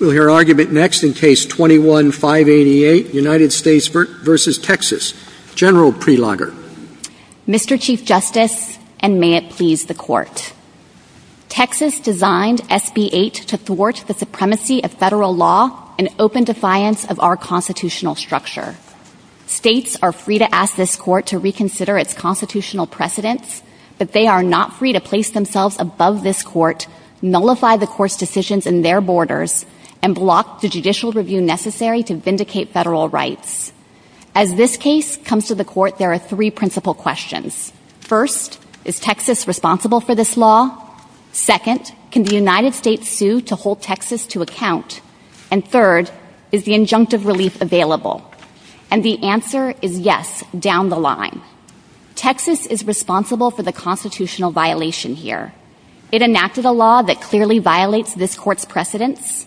We'll hear argument next in Case 21-588, United States v. Texas. General Prelogar. Mr. Chief Justice, and may it please the Court, Texas designed SB-8 to thwart the supremacy of federal law and open defiance of our constitutional structure. States are free to ask this Court to reconsider its constitutional precedents, but they are not free to place themselves above this Court, nullify the Court's decisions in their borders, and block the judicial review necessary to vindicate federal rights. As this case comes to the Court, there are three principal questions. First, is Texas responsible for this law? Second, can the United States sue to hold Texas to account? And third, is the injunctive relief available? And the answer is yes, down the line. Texas is responsible for the constitutional violation here. It enacted a law that clearly violates this Court's precedents.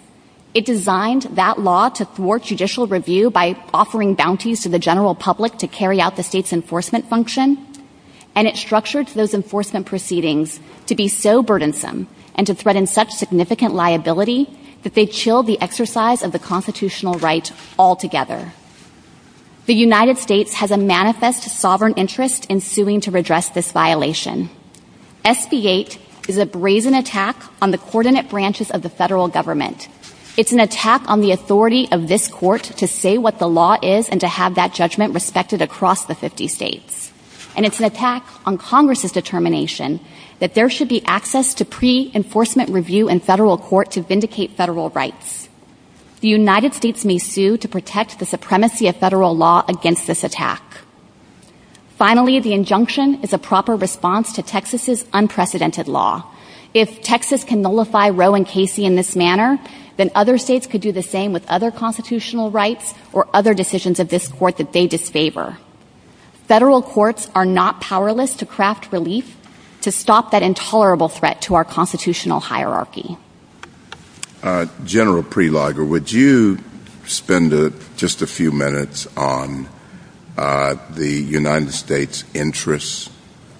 It designed that law to thwart judicial review by offering bounties to the general public to carry out the state's enforcement function. And it structured those enforcement proceedings to be so burdensome and to threaten such significant liability that they chilled the exercise of the constitutional right altogether. The United States has a manifest sovereign interest in suing to redress this violation. SB 8 is a brazen attack on the coordinate branches of the federal government. It's an attack on the authority of this Court to say what the law is and to have that judgment respected across the 50 states. And it's an attack on Congress's determination that there should be access to pre-enforcement review in federal court to vindicate federal rights. The United States may sue to protect the supremacy of federal law against this attack. Finally, the injunction is a response to Texas's unprecedented law. If Texas can nullify Roe and Casey in this manner, then other states could do the same with other constitutional rights or other decisions of this Court that they disfavor. Federal courts are not powerless to craft relief to stop that intolerable threat to our constitutional hierarchy. General Preliger, would you spend just a few minutes on the United States' interests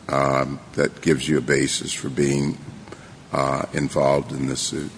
that gives you a basis for being involved in this suit?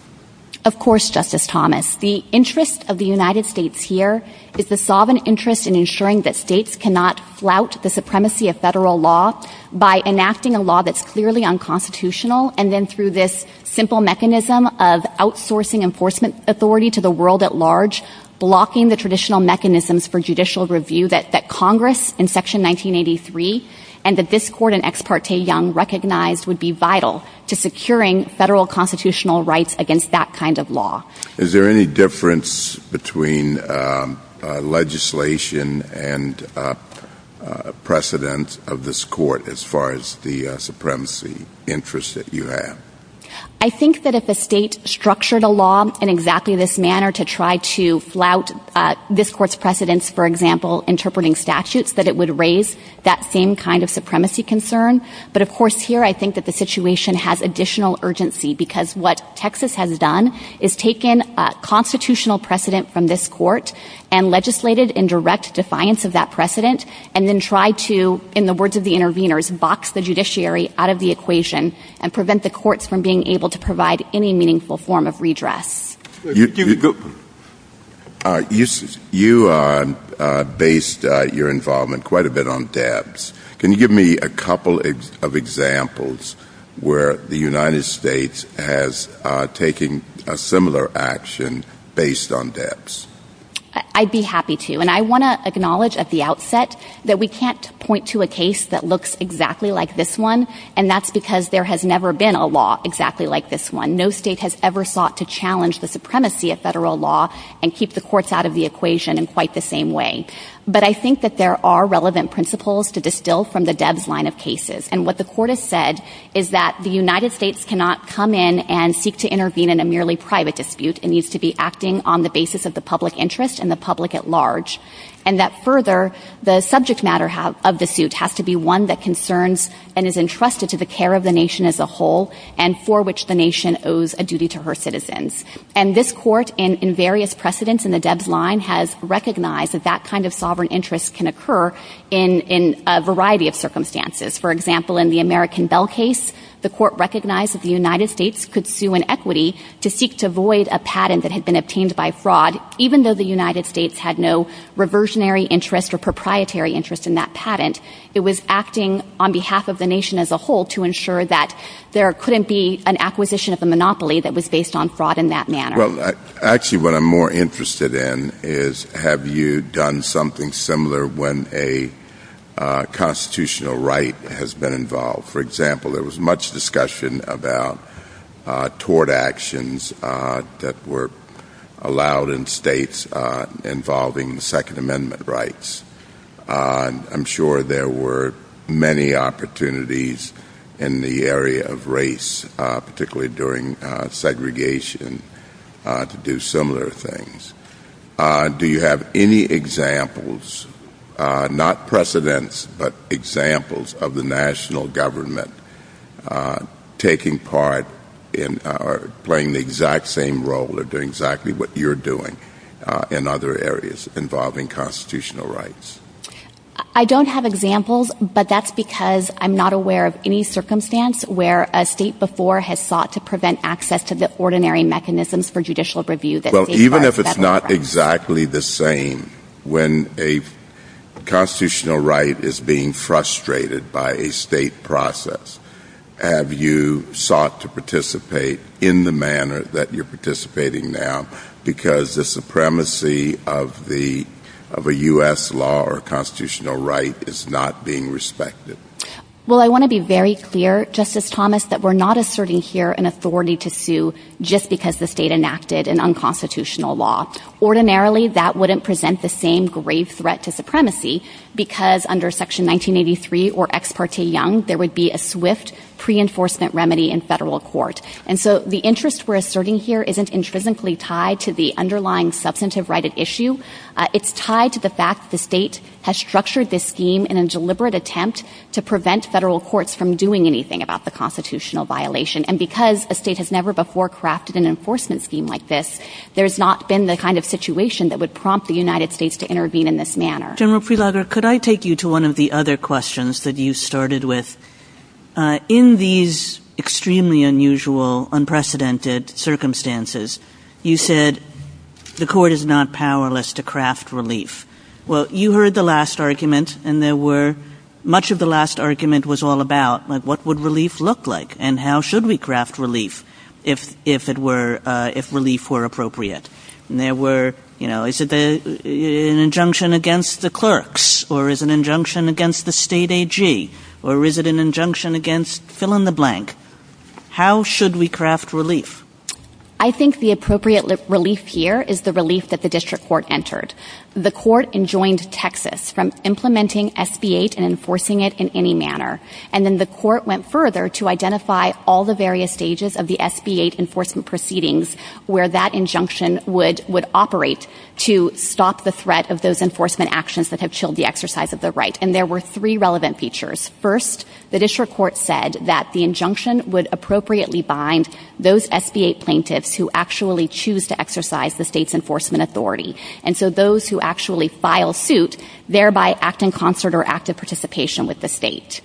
Of course, Justice Thomas. The interest of the United States here is the sovereign interest in ensuring that states cannot flout the supremacy of federal law by enacting a law that's clearly unconstitutional and then through this simple mechanism of outsourcing enforcement authority to the world at large, blocking the traditional mechanisms for judicial review that Congress in Section 1983 and the Biscord and Ex parte Young recognized would be vital to securing federal constitutional rights against that kind of law. Is there any difference between legislation and precedent of this Court as far as the supremacy interest that you have? I think that if the state structured a law in exactly this manner to try to flout this Court's precedents, for example, interpreting statutes, that it would raise that same kind of supremacy concern. But of course here, I think that the situation has additional urgency because what Texas has done is taken a constitutional precedent from this Court and legislated in direct defiance of that precedent and then tried to, in the words of the interveners, box the judiciary out of the being able to provide any meaningful form of redress. You based your involvement quite a bit on debts. Can you give me a couple of examples where the United States has taken a similar action based on debts? I'd be happy to. And I want to acknowledge at the outset that we can't point to a case that looks exactly like this one, and that's because there has never been a law exactly like this one. No state has ever sought to challenge the supremacy of federal law and keep the courts out of the equation in quite the same way. But I think that there are relevant principles to distill from the Deb's line of cases. And what the Court has said is that the United States cannot come in and seek to intervene in a merely private dispute. It needs to be acting on the basis of the public interest and the public at large. And that further, the subject matter of the suit has to be one that concerns and is entrusted to the care of the nation as a whole and for which the nation owes a duty to her citizens. And this Court, in various precedents in the Deb's line, has recognized that that kind of sovereign interest can occur in a variety of circumstances. For example, in the American Bell case, the Court recognized that the United States could sue an equity to seek to void a patent that had been obtained by fraud, even though the United States was acting on behalf of the nation as a whole to ensure that there couldn't be an acquisition of a monopoly that was based on fraud in that manner. Well, actually, what I'm more interested in is have you done something similar when a constitutional right has been involved? For example, there was much discussion about tort actions that were allowed in states involving Second Amendment rights. I'm sure there were many opportunities in the area of race, particularly during segregation, to do similar things. Do you have any examples, not precedents, but examples of the national government taking part in or playing the exact same role or doing exactly what you're doing in other areas involving constitutional rights? I don't have examples, but that's because I'm not aware of any circumstance where a state before has sought to prevent access to the ordinary mechanisms for judicial review. Well, even if it's not exactly the same, when a constitutional right is being frustrated by a state process, have you sought to participate in the manner that you're participating now because the supremacy of a U.S. law or constitutional right is not being respected? Well, I want to be very clear, Justice Thomas, that we're not asserting here an authority to sue just because the state enacted an unconstitutional law. Ordinarily, that wouldn't present the same grave threat to supremacy because under Section 1983 or The interest we're asserting here isn't intrinsically tied to the underlying substantive right at issue. It's tied to the fact the state has structured this scheme in a deliberate attempt to prevent federal courts from doing anything about the constitutional violation. And because a state has never before crafted an enforcement scheme like this, there's not been the kind of situation that would prompt the United States to intervene in this manner. General Prelogar, could I take you to one of the other questions that you started with? In these extremely unusual, unprecedented circumstances, you said the court is not powerless to craft relief. Well, you heard the last argument and there were much of the last argument was all about what would relief look like and how should we craft relief if relief were appropriate? And there were, you know, is it an injunction against the clerks or is an injunction against the state AG or is it an injunction against fill in the blank? How should we craft relief? I think the appropriate relief here is the relief that the district court entered. The court enjoined Texas from implementing SB-8 and enforcing it in any manner. And then the court went further to identify all the various stages of the SB-8 enforcement proceedings where that injunction would operate to stop the threat of those enforcement actions that have chilled the exercise of the right. And there were three relevant features. First, the district court said that the injunction would appropriately bind those SB-8 plaintiffs who actually choose to exercise the state's enforcement authority. And so those who actually file suit thereby act in concert or active participation with the state.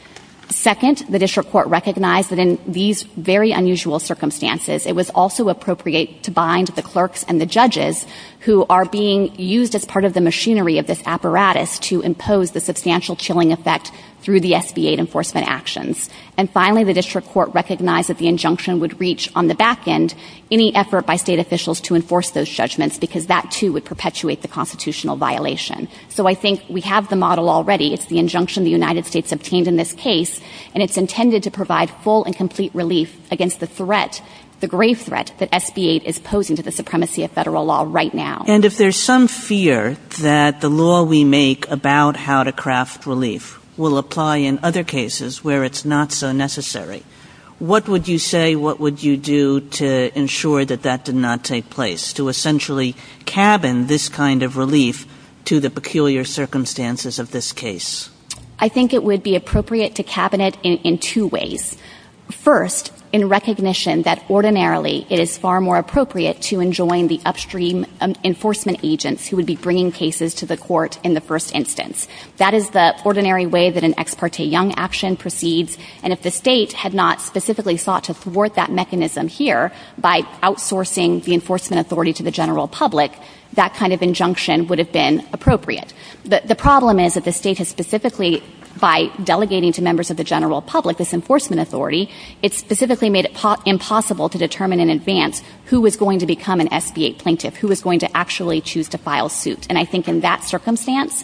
Second, the district court recognized that in these very unusual circumstances, it was also appropriate to bind the clerks and the judges who are being used as part of the machinery of this apparatus to impose the substantial chilling effect through the SB-8 enforcement actions. And finally, the district court recognized that the injunction would reach on the back end any effort by state officials to enforce those judgments because that too would perpetuate the constitutional violation. So I think we have the model already. It's the injunction the United States obtained in this case, and it's intended to provide full and complete relief against the threat, the grave threat that SB-8 is posing to the supremacy of federal law right now. And if there's some fear that the law we make about how to craft relief will apply in other cases where it's not so necessary, what would you say, what would you do to ensure that that did not take place, to essentially cabin this kind of relief to the peculiar circumstances of this case? I think it would be appropriate to cabinet in two ways. First, in recognition that ordinarily it is far more appropriate to enjoin the upstream enforcement agents who would be bringing cases to the court in the first instance. That is the ordinary way that an ex parte young action proceeds. And if the state had not specifically thought to thwart that mechanism here by outsourcing the enforcement authority to the general public, that kind of injunction would have been appropriate. But the problem is that the state has specifically, by delegating to members of the general public this enforcement authority, it's specifically made it impossible to determine in advance who was going to become an SBA plaintiff, who was going to actually choose to file suit. And I think in that circumstance,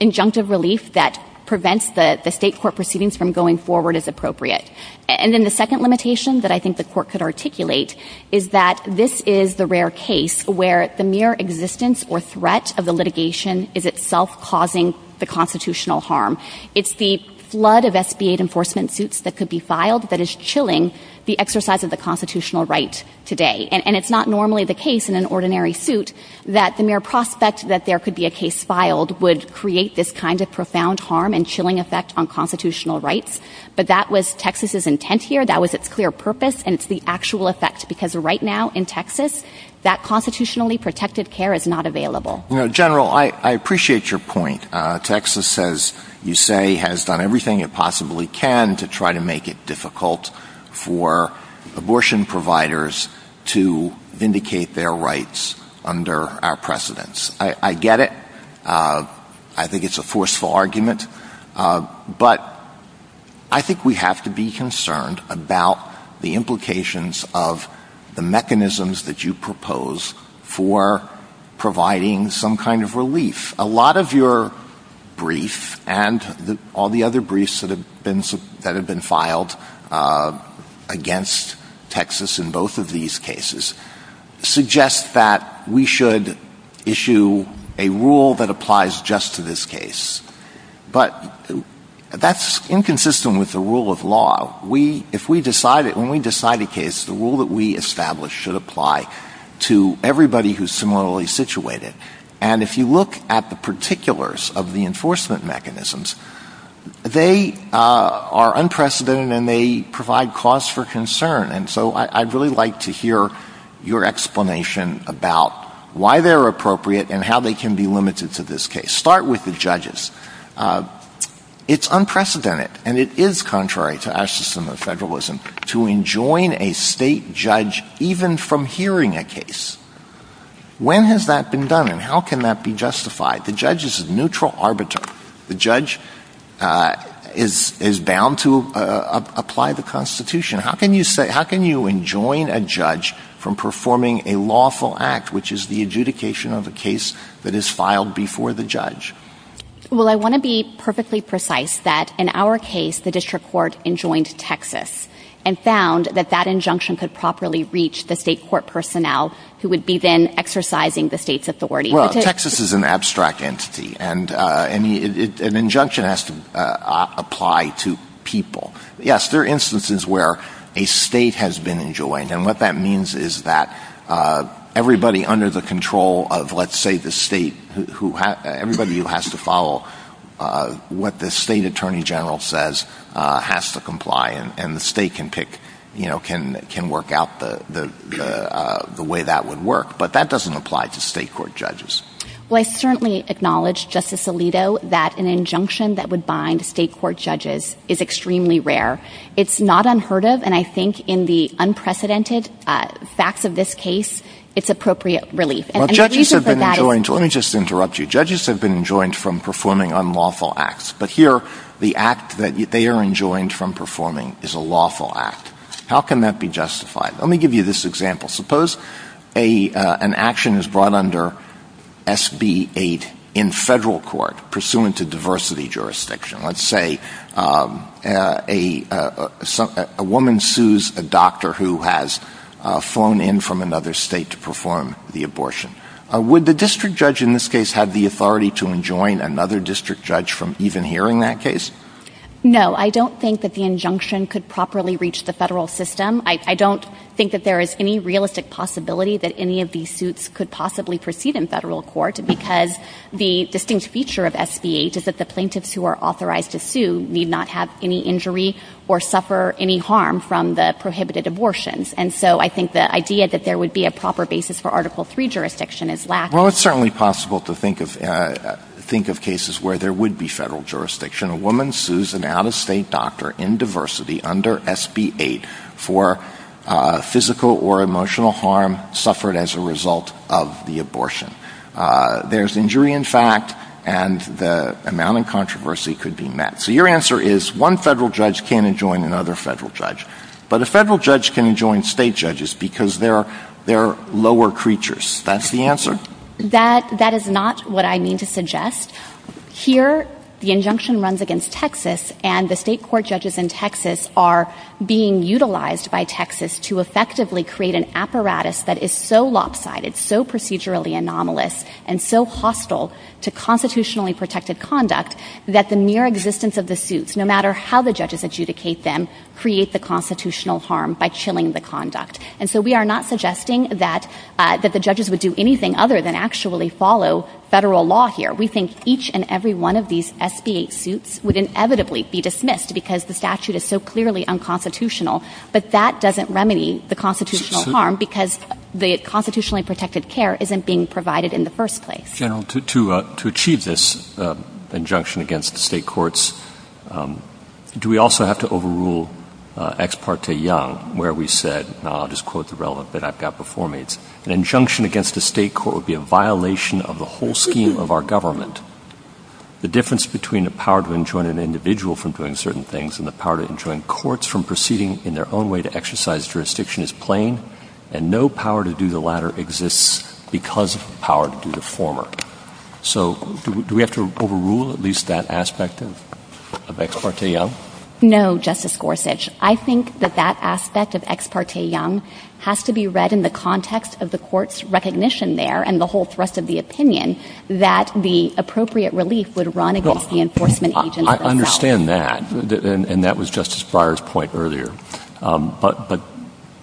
injunctive relief that prevents the state court proceedings from going forward is appropriate. And then the second limitation that I think the court could articulate is that this is the rare case where the mere existence or threat of the litigation is itself causing the constitutional harm. It's the flood of SBA enforcement suits that could be filed that is the exercise of the constitutional right today. And it's not normally the case in an ordinary suit that the mere prospect that there could be a case filed would create this kind of profound harm and chilling effect on constitutional rights. But that was Texas's intent here. That was its clear purpose. And it's the actual effect. Because right now in Texas, that constitutionally protected care is not available. General, I appreciate your point. Texas, as you say, has done everything it possibly can to try to make it difficult for abortion providers to vindicate their rights under our precedents. I get it. I think it's a forceful argument. But I think we have to be concerned about the implications of the mechanisms that you propose for providing some kind of relief. A lot of your brief and all the other briefs that have been filed against Texas in both of these cases suggest that we should issue a rule that applies just to this case. But that's inconsistent with the rule of law. When we decide a case, the rule that we similarly situate it. And if you look at the particulars of the enforcement mechanisms, they are unprecedented and they provide cause for concern. And so I'd really like to hear your explanation about why they're appropriate and how they can be limited to this case. Start with the judges. It's unprecedented. And it is contrary to our system of federalism to enjoin a state judge even from hearing a case. When has that been done and how can that be justified? The judge is a neutral arbiter. The judge is bound to apply the Constitution. How can you enjoin a judge from performing a lawful act, which is the adjudication of a case that is filed before the judge? Well, I want to be perfectly precise that in our case, the district court enjoined Texas and found that that injunction could properly reach the state court personnel who would be then exercising the state's authority. Well, Texas is an abstract entity and an injunction has to apply to people. Yes, there are instances where a state has been enjoined. And what that means is that everybody under the control of, let's say, the state, everybody who has to follow what the state attorney general says has to comply and the state can work out the way that would work. But that doesn't apply to state court judges. Well, I certainly acknowledge, Justice Alito, that an injunction that would bind state court judges is extremely rare. It's not unheard of. And I think in the unprecedented facts of this case, it's appropriate relief. Let me just interrupt you. Judges have been enjoined from performing unlawful acts. But here, the act that they are enjoined from performing is a lawful act. How can that be justified? Let me give you this example. Suppose an action is brought under SB 8 in federal court pursuant to diversity jurisdiction. Let's say a woman sues a doctor who has flown in from another state to perform the abortion. Would the district judge in this case have the authority to enjoin another district judge from even hearing that case? No, I don't think that the injunction could properly reach the federal system. I don't think that there is any realistic possibility that any of these suits could possibly proceed in federal court because the distinct feature of SB 8 is that the plaintiffs who are authorized to need not have any injury or suffer any harm from the prohibited abortions. And so I think the idea that there would be a proper basis for Article 3 jurisdiction is lacking. Well, it's certainly possible to think of cases where there would be federal jurisdiction. A woman sues an out-of-state doctor in diversity under SB 8 for physical or emotional harm suffered as a result of the one federal judge can't enjoin another federal judge. But a federal judge can enjoin state judges because they're lower creatures. That's the answer. That is not what I mean to suggest. Here, the injunction runs against Texas and the state court judges in Texas are being utilized by Texas to effectively create an apparatus that is so lopsided, so procedurally anomalous, and so hostile to constitutionally protected conduct that the mere existence of the suits, no matter how the judges adjudicate them, create the constitutional harm by chilling the conduct. And so we are not suggesting that the judges would do anything other than actually follow federal law here. We think each and every one of these SB 8 suits would inevitably be dismissed because the statute is so clearly unconstitutional, but that doesn't remedy the constitutional harm because the constitutionally protected care isn't being provided in the first place. General, to achieve this injunction against the state courts, do we also have to overrule Ex parte Young, where we said, I'll just quote the relevant that I've got before me, an injunction against the state court would be a violation of the whole scheme of our government. The difference between the power to enjoin an individual from doing certain things and the power to enjoin courts from proceeding in their own way to exercise jurisdiction is plain and no power to do the latter exists because of the power to do the former. So do we have to overrule at least that aspect of Ex parte Young? No, Justice Gorsuch. I think that that aspect of Ex parte Young has to be read in the context of the court's recognition there and the whole thrust of the opinion that the appropriate relief would run against the enforcement agent. I understand that, and that was Justice Breyer's point earlier, but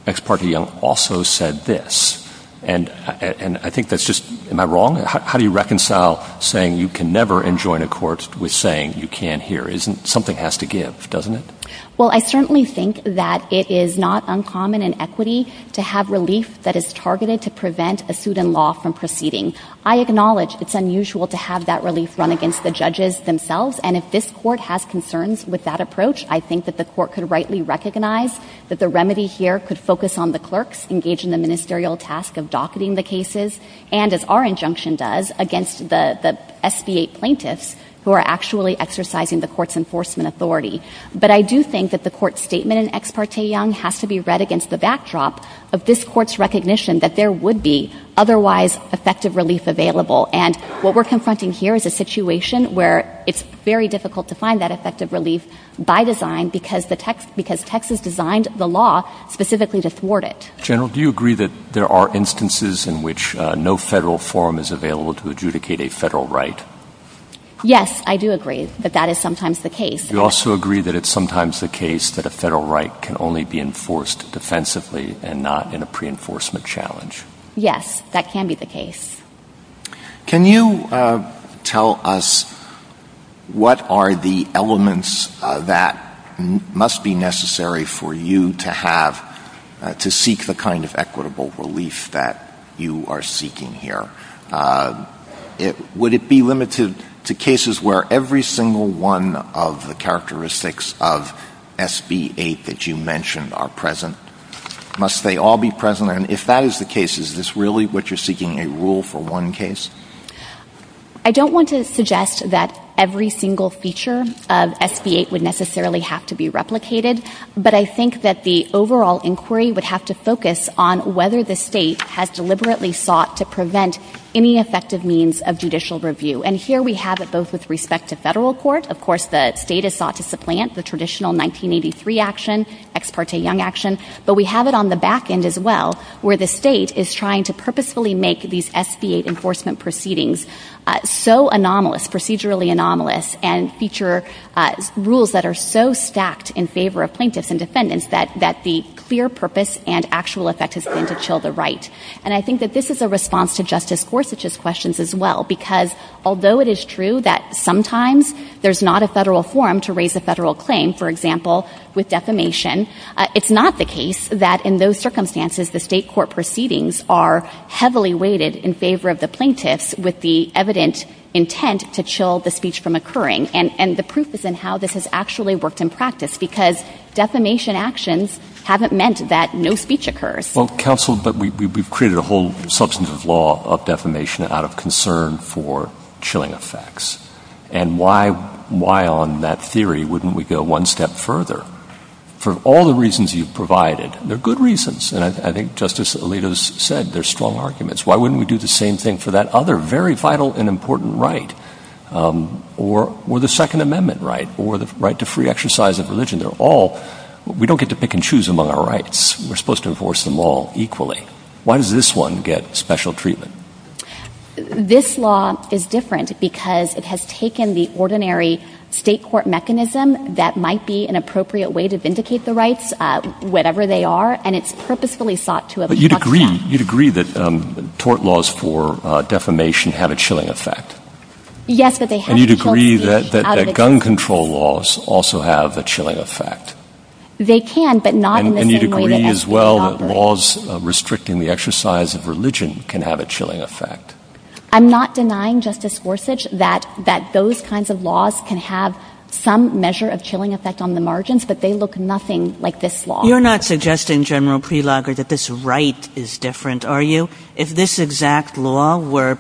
Ex parte Young also said this, and I think that's just, am I wrong? How do you reconcile saying you can never enjoin a court with saying you can here? Something has to give, doesn't it? Well, I certainly think that it is not uncommon in equity to have relief that is targeted to prevent a suit in law from proceeding. I acknowledge it's unusual to have that relief run against the judges themselves, and if this court has concerns with that approach, I think that the court could rightly recognize that the remedy here could focus on the clerks engaged in the ministerial task of docketing the cases, and as our injunction does, against the SBA plaintiffs who are actually exercising the court's enforcement authority. But I do think that the court's statement in Ex parte Young has to be read against the backdrop of this court's recognition that there would be otherwise effective relief available, and what we're confronting here is a situation where it's very difficult to find that effective relief by design because Texas designed the law specifically to thwart it. General, do you agree that there are instances in which no federal forum is available to adjudicate a federal right? Yes, I do agree, but that is sometimes the case. You also agree that it's sometimes the case that a federal right can only be enforced defensively and not in a What are the elements that must be necessary for you to seek the kind of equitable relief that you are seeking here? Would it be limited to cases where every single one of the characteristics of SB8 that you mentioned are present? Must they all be present, and if that is the case, is this what you're seeking, a rule for one case? I don't want to suggest that every single feature of SB8 would necessarily have to be replicated, but I think that the overall inquiry would have to focus on whether the state has deliberately sought to prevent any effective means of judicial review, and here we have it both with respect to federal court. Of course, the state is thought to supplant the traditional 1983 action, Ex parte Young action, but we have it on the back end as well, where the state is trying to purposefully make these SB8 enforcement proceedings so anomalous, procedurally anomalous, and feature rules that are so stacked in favor of plaintiffs and defendants that the clear purpose and actual effect is going to chill the right, and I think that this is a response to Justice Gorsuch's questions as well, because although it is true that sometimes there's not a federal forum to raise a federal claim, for example, with defamation, it's not the case that in those circumstances the state court proceedings are heavily weighted in favor of the plaintiffs with the evident intent to chill the speech from occurring, and the proof is in how this has actually worked in practice, because defamation actions haven't meant that no speech occurs. Well, counsel, but we've created a whole substantive law of defamation out of concern for chilling effects, and why on that theory wouldn't we go one step further? For all the reasons you've provided, they're good reasons, and I think Justice Alito's said they're strong arguments. Why wouldn't we do the same thing for that other very vital and important right, or the Second Amendment right, or the right to free exercise of religion? They're all, we don't get to pick and choose among our rights. We're supposed to enforce them all equally. Why does this one get special treatment? This law is different because it has taken the ordinary state court mechanism that might be an appropriate way to vindicate the rights, whatever they are, and it's purposefully sought to— But you'd agree, you'd agree that tort laws for defamation have a chilling effect. Yes, but they have— And you'd agree that gun control laws also have a chilling effect. They can, but not— And you'd agree as well that laws restricting the exercise of religion can have a chilling effect. I'm not denying, Justice Gorsuch, that those kinds of laws can have some measure of chilling effect on the margins, but they look nothing like this law. You're not suggesting, General Prelogar, that this right is different, are you? If this exact law were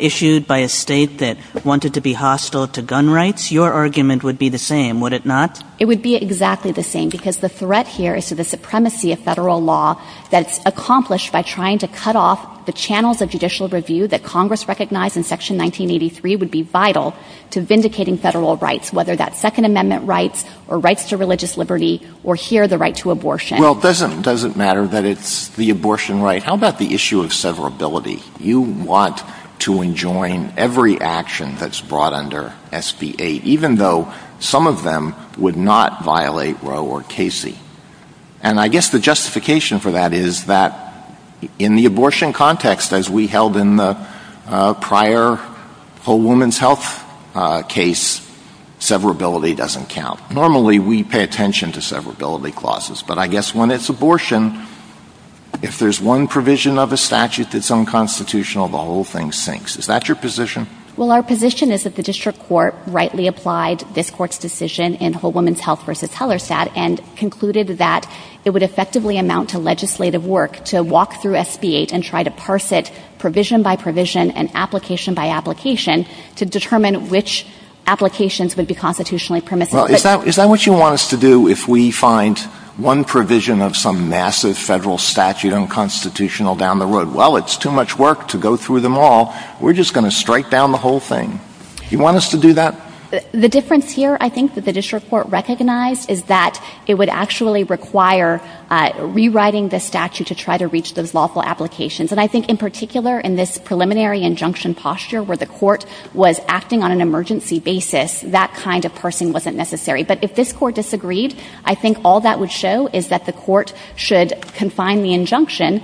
issued by a state that wanted to be hostile to gun rights, your argument would be the same, would it not? It would be exactly the same because the threat here is to the supremacy of federal law that's accomplished by trying to cut off the channels of judicial review that Congress recognized in Section 1983 would be vital to vindicating federal rights, whether that's Second Amendment rights, or rights to religious liberty, or here the right to abortion. Well, it doesn't matter that it's the abortion right. How about the issue of severability? You want to enjoin every action that's brought under SB 8, even though some of them would not violate Roe or Casey. And I guess the justification for that is that in the abortion context, as we held in the prior Whole Woman's Health case, severability doesn't count. Normally, we pay attention to severability clauses, but I guess when it's abortion, if there's one provision of a statute that's unconstitutional, the whole thing sinks. Is that your position? Well, our position is that the district court rightly applied this court's decision in Whole Woman's Health v. Hellerstadt and concluded that it would effectively amount to legislative work to walk through SB 8 and try to parse it provision by provision and application by application to determine which applications would be constitutionally permissible. Well, is that what you want us to do if we find one provision of some massive federal statute unconstitutional down the road? Well, it's too much work to go through them all. We're just going to strike down the whole thing. You want us to do that? The difference here, I think, the district court recognized is that it would actually require rewriting the statute to try to reach those lawful applications. And I think, in particular, in this preliminary injunction posture where the court was acting on an emergency basis, that kind of parsing wasn't necessary. But if this court disagreed, I think all that would show is that the court should confine the injunction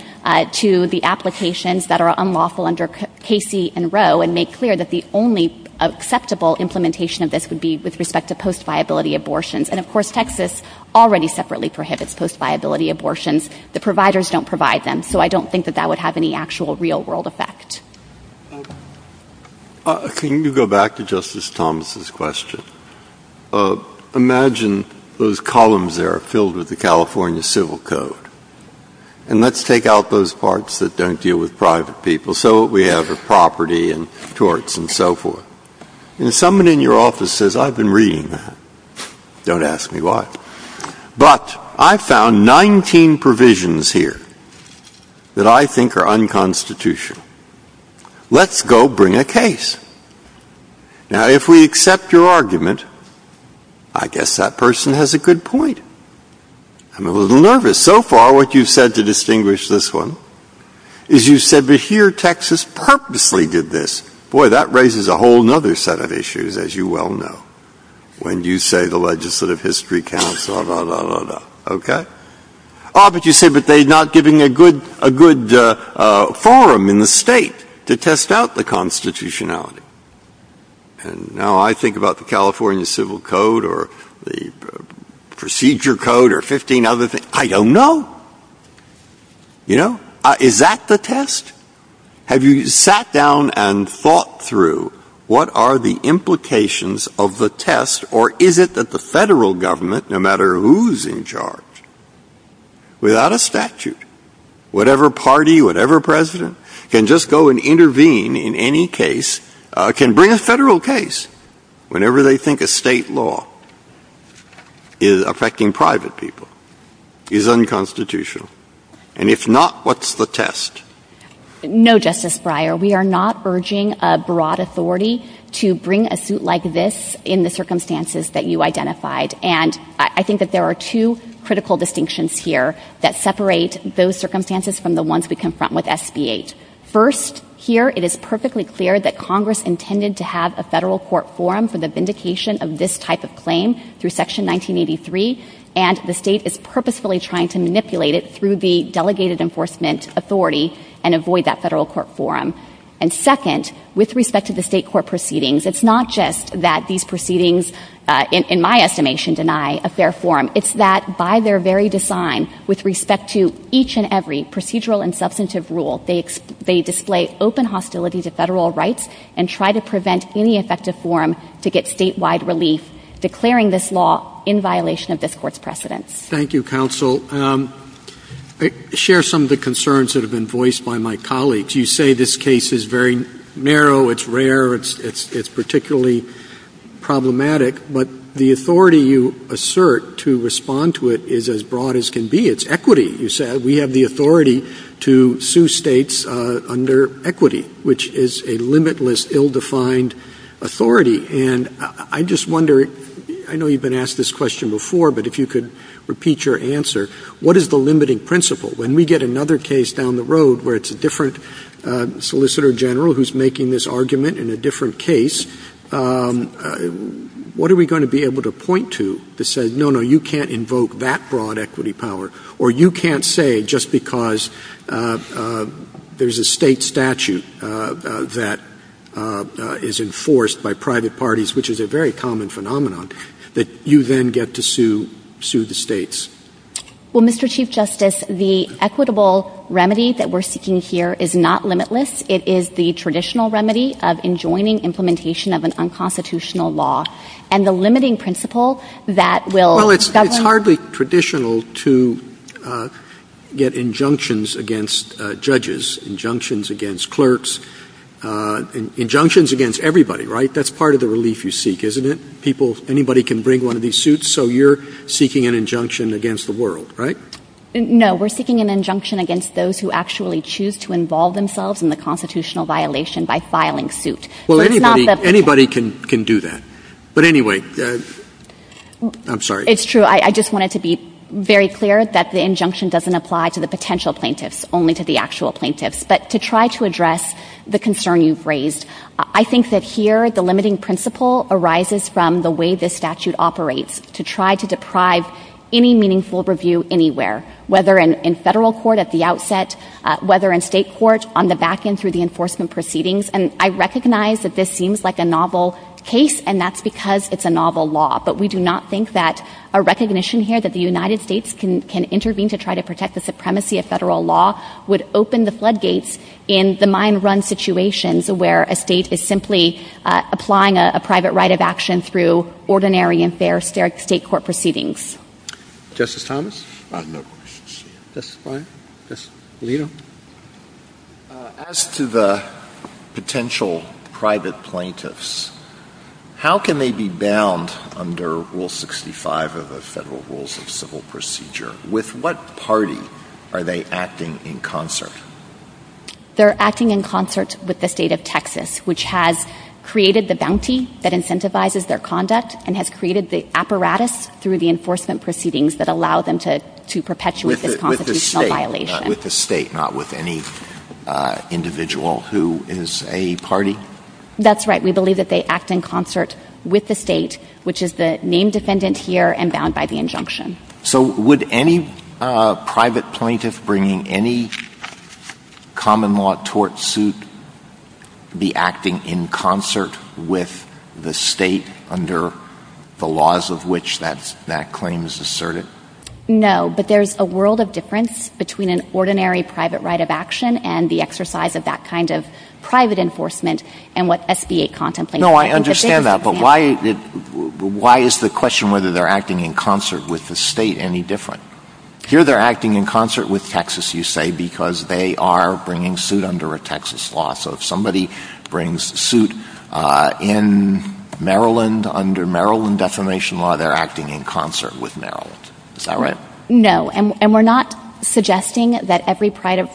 to the applications that are unlawful under Casey and Roe and make clear that the only acceptable implementation of this would be with respect to post-viability abortions. And, of course, Texas already separately prohibits post-viability abortions. The providers don't provide them. So I don't think that that would have any actual real-world effect. Can you go back to Justice Thomas's question? Imagine those columns there filled with the California Civil Code. And let's take out those parts that don't deal with private people, so we have property and torts and so forth. And someone in your office says, I've been reading that. Don't ask me why. But I found 19 provisions here that I think are unconstitutional. Let's go bring a case. Now, if we accept your argument, I guess that person has a good point. I'm a little nervous. So far, what you've said to distinguish this one is you said, but here Texas purposely did this. Boy, that raises a whole other set of issues, as you well know, when you say the Legislative History Council, blah, blah, blah, blah, okay? Oh, but you said that they're not giving a good forum in the state to test out the constitutionality. And now I think about the California Civil Code or the Procedure Code or the Constitution. Is that the test? Have you sat down and thought through what are the implications of the test? Or is it that the federal government, no matter who's in charge, without a statute, whatever party, whatever president can just go and intervene in any case, can bring a federal case whenever they think a state law is affecting private people is unconstitutional. And if not, what's the test? No, Justice Breyer. We are not urging a broad authority to bring a suit like this in the circumstances that you identified. And I think that there are two critical distinctions here that separate those circumstances from the ones we confront with SB-8. First, here, it is perfectly clear that Congress intended to have a federal court forum for the vindication of this type of claim through Section 1983. And the state is purposefully trying to manipulate it through the Delegated Enforcement Authority and avoid that federal court forum. And second, with respect to the state court proceedings, it's not just that these proceedings, in my estimation, deny a fair forum. It's that by their very design, with respect to each and every procedural and substantive rule, they display open hostility to federal rights and try to prevent any effective forum to get statewide relief, declaring this law in violation of this court's precedent. Thank you, Counsel. I share some of the concerns that have been voiced by my colleagues. You say this case is very narrow, it's rare, it's particularly problematic. But the authority you assert to respond to it is as broad as can be. It's equity. You said we have the authority to sue states under equity, which is a limitless, ill-defined authority. And I just wonder, I know you've been asked this question before, but if you could repeat your answer, what is the limiting principle? When we get another case down the road where it's a different Solicitor General who's making this argument in a different case, what are we going to be able to point to that says, no, no, you can't invoke that broad equity power, or you can't say just because there's a state statute that is enforced by private parties, which is a very common phenomenon, that you then get to sue the states? Well, Mr. Chief Justice, the equitable remedy that we're seeking here is not limitless. It is the traditional remedy of enjoining implementation of an unconstitutional law. And the limiting principle that will govern... Well, it's hardly traditional to get injunctions against judges, injunctions against clerks, injunctions against everybody, right? That's part of the relief you seek, isn't it? Anybody can bring one of these suits, so you're seeking an injunction against the world, right? No, we're seeking an injunction against those who actually choose to involve themselves in the constitutional violation by filing suit. Well, anybody can do that. But anyway, I'm sorry. It's true. I just wanted to be very clear that the injunction doesn't apply to the plaintiffs, but to try to address the concern you've raised. I think that here the limiting principle arises from the way the statute operates to try to deprive any meaningful review anywhere, whether in federal court at the outset, whether in state court on the back end through the enforcement proceedings. And I recognize that this seems like a novel case, and that's because it's a novel law. But we do not think that a recognition here that the United States can floodgates in the mind-run situations where a state is simply applying a private right of action through ordinary and fair state court proceedings. Justice Thomas? As to the potential private plaintiffs, how can they be bound under Rule 65 of the Federal Rules of Civil Procedure? With what party are they acting in concert? They're acting in concert with the state of Texas, which has created the bounty that incentivizes their conduct and has created the apparatus through the enforcement proceedings that allow them to perpetuate this constitutional violation. With the state, not with any individual who is a party? That's right. We believe that they act in concert with the state, which is the named defendant here and bound by the injunction. So would any private plaintiff bringing any common law tort suit be acting in concert with the state under the laws of which that claim is asserted? No, but there's a world of difference between an ordinary private right of action and the exercise of that kind of private enforcement and what SBA contemplates. I understand that, but why is the question whether they're acting in concert with the state any different? Here they're acting in concert with Texas, you say, because they are bringing suit under a Texas law. So if somebody brings suit in Maryland under Maryland defamation law, they're acting in concert with Maryland. Is that right? No, and we're not suggesting that every private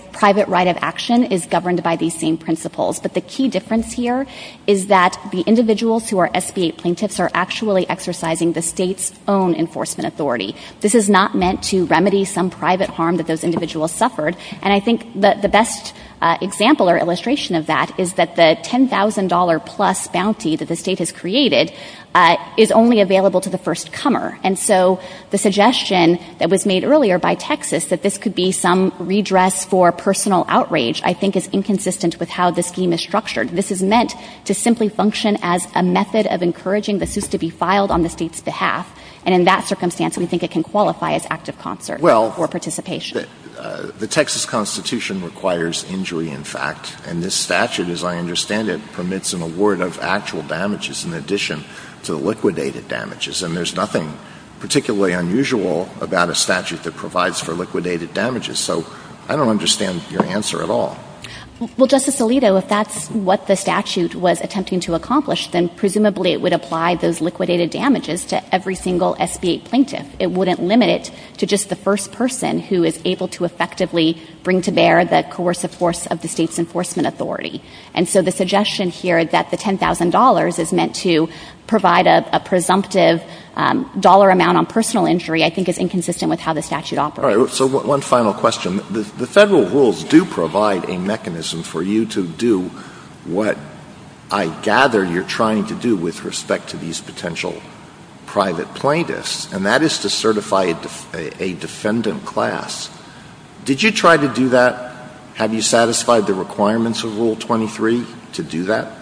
right of action is governed by these same But the key difference here is that the individuals who are SBA plaintiffs are actually exercising the state's own enforcement authority. This is not meant to remedy some private harm that those individuals suffered. And I think that the best example or illustration of that is that the $10,000 plus bounty that the state has created is only available to the first comer. And so the suggestion that was made earlier by Texas that this could be some redress for This is meant to simply function as a method of encouraging the suit to be filed on the state's behalf. And in that circumstance, we think it can qualify as active concert or participation. The Texas Constitution requires injury, in fact, and this statute, as I understand it, permits an award of actual damages in addition to liquidated damages. And there's nothing particularly unusual about a statute that provides for liquidated damages. So I don't understand your answer at all. Well, Justice Alito, if that's what the statute was attempting to accomplish, then presumably it would apply those liquidated damages to every single SBA plaintiff. It wouldn't limit it to just the first person who is able to effectively bring to bear the coercive force of the state's enforcement authority. And so the suggestion here that the $10,000 is meant to provide a presumptive dollar amount on personal injury, I think is inconsistent with how the statute operates. So one final question. The federal rules do provide a mechanism for you to do what I gather you're trying to do with respect to these potential private plaintiffs, and that is to certify a defendant class. Did you try to do that? Have you satisfied the requirements of Rule 23 to do that?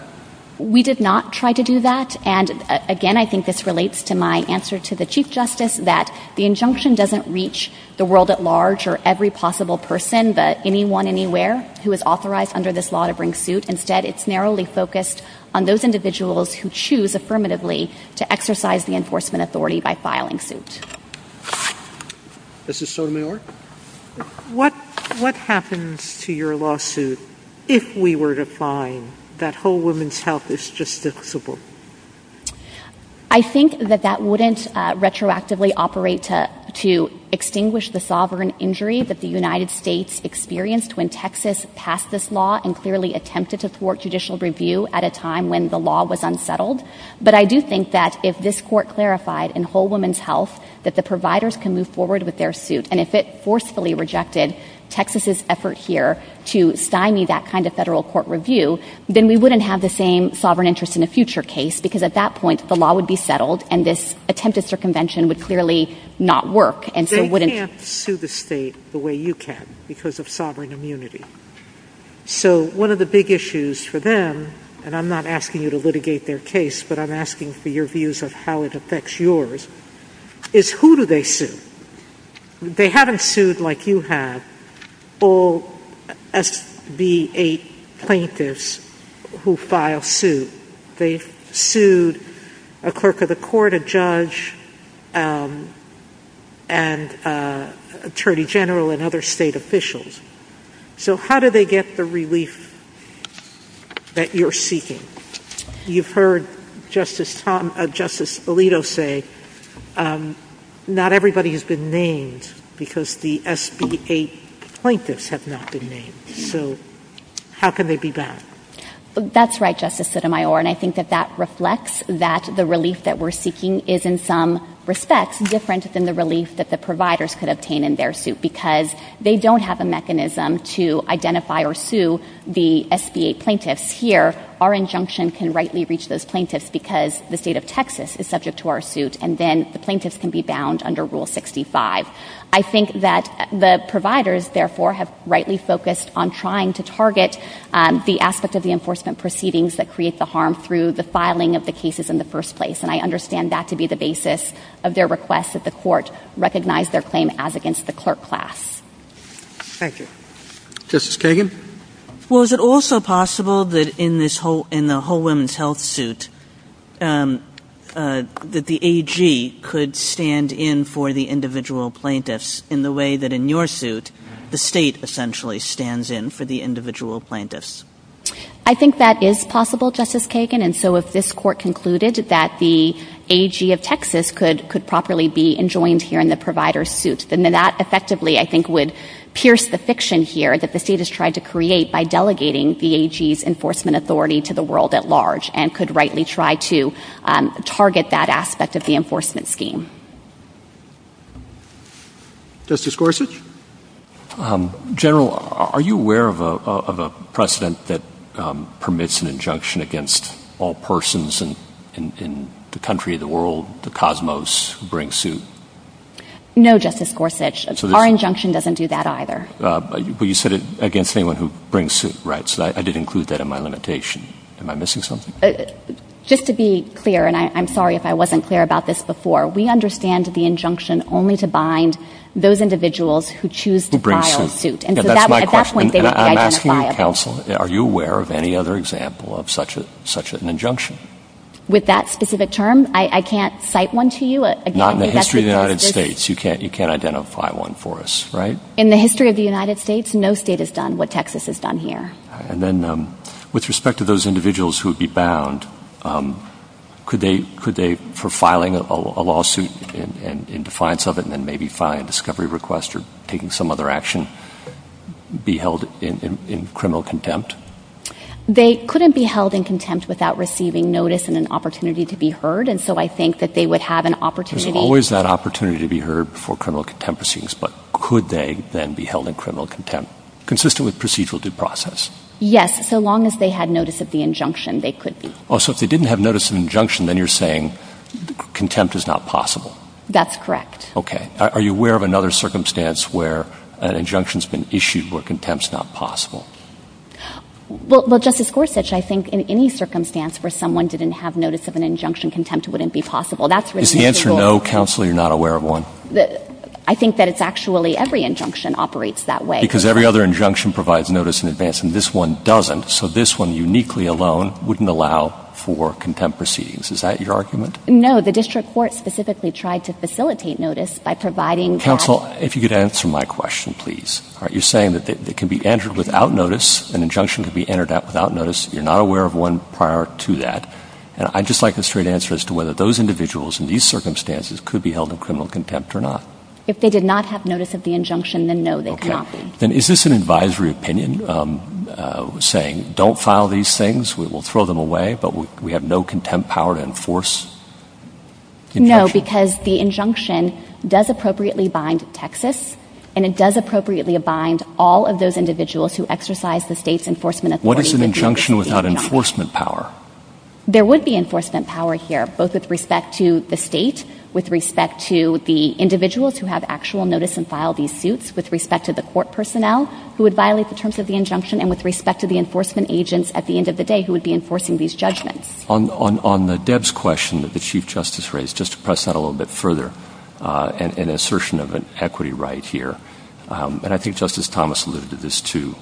We did not try to do that. And again, I think this relates to my answer to the Chief Justice that the injunction doesn't reach the world at large or every possible person, but anyone, anywhere who is authorized under this law to bring suit. Instead, it's narrowly focused on those individuals who choose affirmatively to exercise the enforcement authority by filing suits. Justice Sotomayor? What happens to your lawsuit if we were to find that whole woman's health is justifiable? I think that that wouldn't retroactively operate to extinguish the sovereign injury that the United States experienced when Texas passed this law and clearly attempted to thwart judicial review at a time when the law was unsettled. But I do think that if this court clarified in whole woman's health that the providers can move forward with their suit, and if it forcefully rejected Texas's effort here to sign me that kind of federal court review, then we wouldn't have the same sovereign interest in a future case because at that point, the law would be settled and this attempted circumvention would clearly not work. They can't sue the state the way you can because of sovereign immunity. So one of the big issues for them, and I'm not asking you to litigate their case, but I'm asking for your views of how it affects yours, is who do they sue? They haven't sued like you have all SB8 plaintiffs who file suit. They sued a clerk of the court, a judge, and attorney general, and other state officials. So how do they get the relief that you're seeking? You've heard Justice Alito say not everybody has been named because the SB8 plaintiffs have not been named. So how can they be banned? That's right, Justice Sotomayor, and I think that that reflects that the relief that we're seeking is in some respects different than the relief that the providers could obtain in their suit because they don't have a mechanism to identify or sue the SB8 plaintiffs. Here, our injunction can rightly reach those plaintiffs because the state of Texas is subject to our suit, and then the plaintiffs can be bound under Rule 65. I think that the providers therefore have rightly focused on trying to target the aspect of the enforcement proceedings that create the harm through the filing of the cases in the first place, and I understand that to be the basis of their request that the court recognize their claim as against the clerk class. Thank you. Justice Kagan? Well, is it also possible that in the whole women's health suit that the AG could stand in for the individual plaintiffs in the way that in your suit, the state essentially stands in for the individual plaintiffs? I think that is possible, Justice Kagan, and so if this court concluded that the AG of Texas could properly be enjoined here in the provider's suit, then that effectively, I think, would pierce the fiction here that the state has tried to create by delegating the AG's enforcement authority to the world at large, and could rightly try to target that aspect of the enforcement scheme. Justice Gorsuch? General, are you aware of a precedent that permits an injunction against all persons in the country, the world, the cosmos who bring suit? No, Justice Gorsuch. Our injunction doesn't do that either. But you said it against anyone who brings suit, right? So I did include that in my limitation. Am I missing something? Just to be clear, and I'm sorry if I wasn't clear about this before, we understand the injunction only to bind those individuals who choose to file a suit, and so at that point, they identify it. I'm asking you, counsel, are you aware of any other example of such an injunction? With that specific term? I can't cite one to you? Not in the history of the United States. You can't identify one for us, right? In the history of the United States, no state has done what Texas has done here. All right, and then with respect to those individuals who would be bound, could they, for filing a lawsuit in defiance of it and then maybe filing a discovery request or taking some other action, be held in criminal contempt? They couldn't be held in contempt without receiving notice and an opportunity to be heard, and so I think that they would have an opportunity. There's always that opportunity to be heard before criminal contempt proceedings, but could they then be held in criminal contempt, consistent with procedural due process? Yes, so long as they had notice of the injunction, they could be. Oh, so if they didn't have notice of injunction, then you're saying contempt is not possible? That's correct. Okay. Are you aware of another circumstance where an injunction's been issued where contempt's not possible? Well, Justice Gorsuch, I think in any circumstance where someone didn't have notice of an injunction, contempt wouldn't be possible. Is the answer no, counsel, or you're not aware of one? I think that it's actually every injunction operates that way. Because every other injunction provides notice in advance and this one doesn't, so this one uniquely alone wouldn't allow for contempt proceedings. Is that your argument? No, the district court specifically tried to facilitate notice by providing that... Counsel, if you could answer my question, please. You're saying that it can be entered without notice, an injunction can be entered without notice, you're not aware of one prior to that, and I'd just like a straight answer as to whether those individuals in these circumstances could be held in criminal contempt or not. If they did not have notice of the injunction, then no, they cannot be. Okay. And is this an advisory opinion saying, don't file these things, we will throw them away, but we have no contempt power to enforce? No, because the injunction does appropriately bind Texas and it does appropriately bind all of those individuals who exercise the state's enforcement authority... What is an injunction without enforcement power? There would be enforcement power here, both with respect to the state, with respect to the individuals who have actual notice and file these suits, with respect to the court personnel who would violate the terms of the injunction, and with respect to the enforcement agents at the end of the day who would be enforcing these judgments. On Deb's question that the Chief Justice raised, just to press that a little bit further, an assertion of an equity right here, and I think Justice Thomas alluded to this too,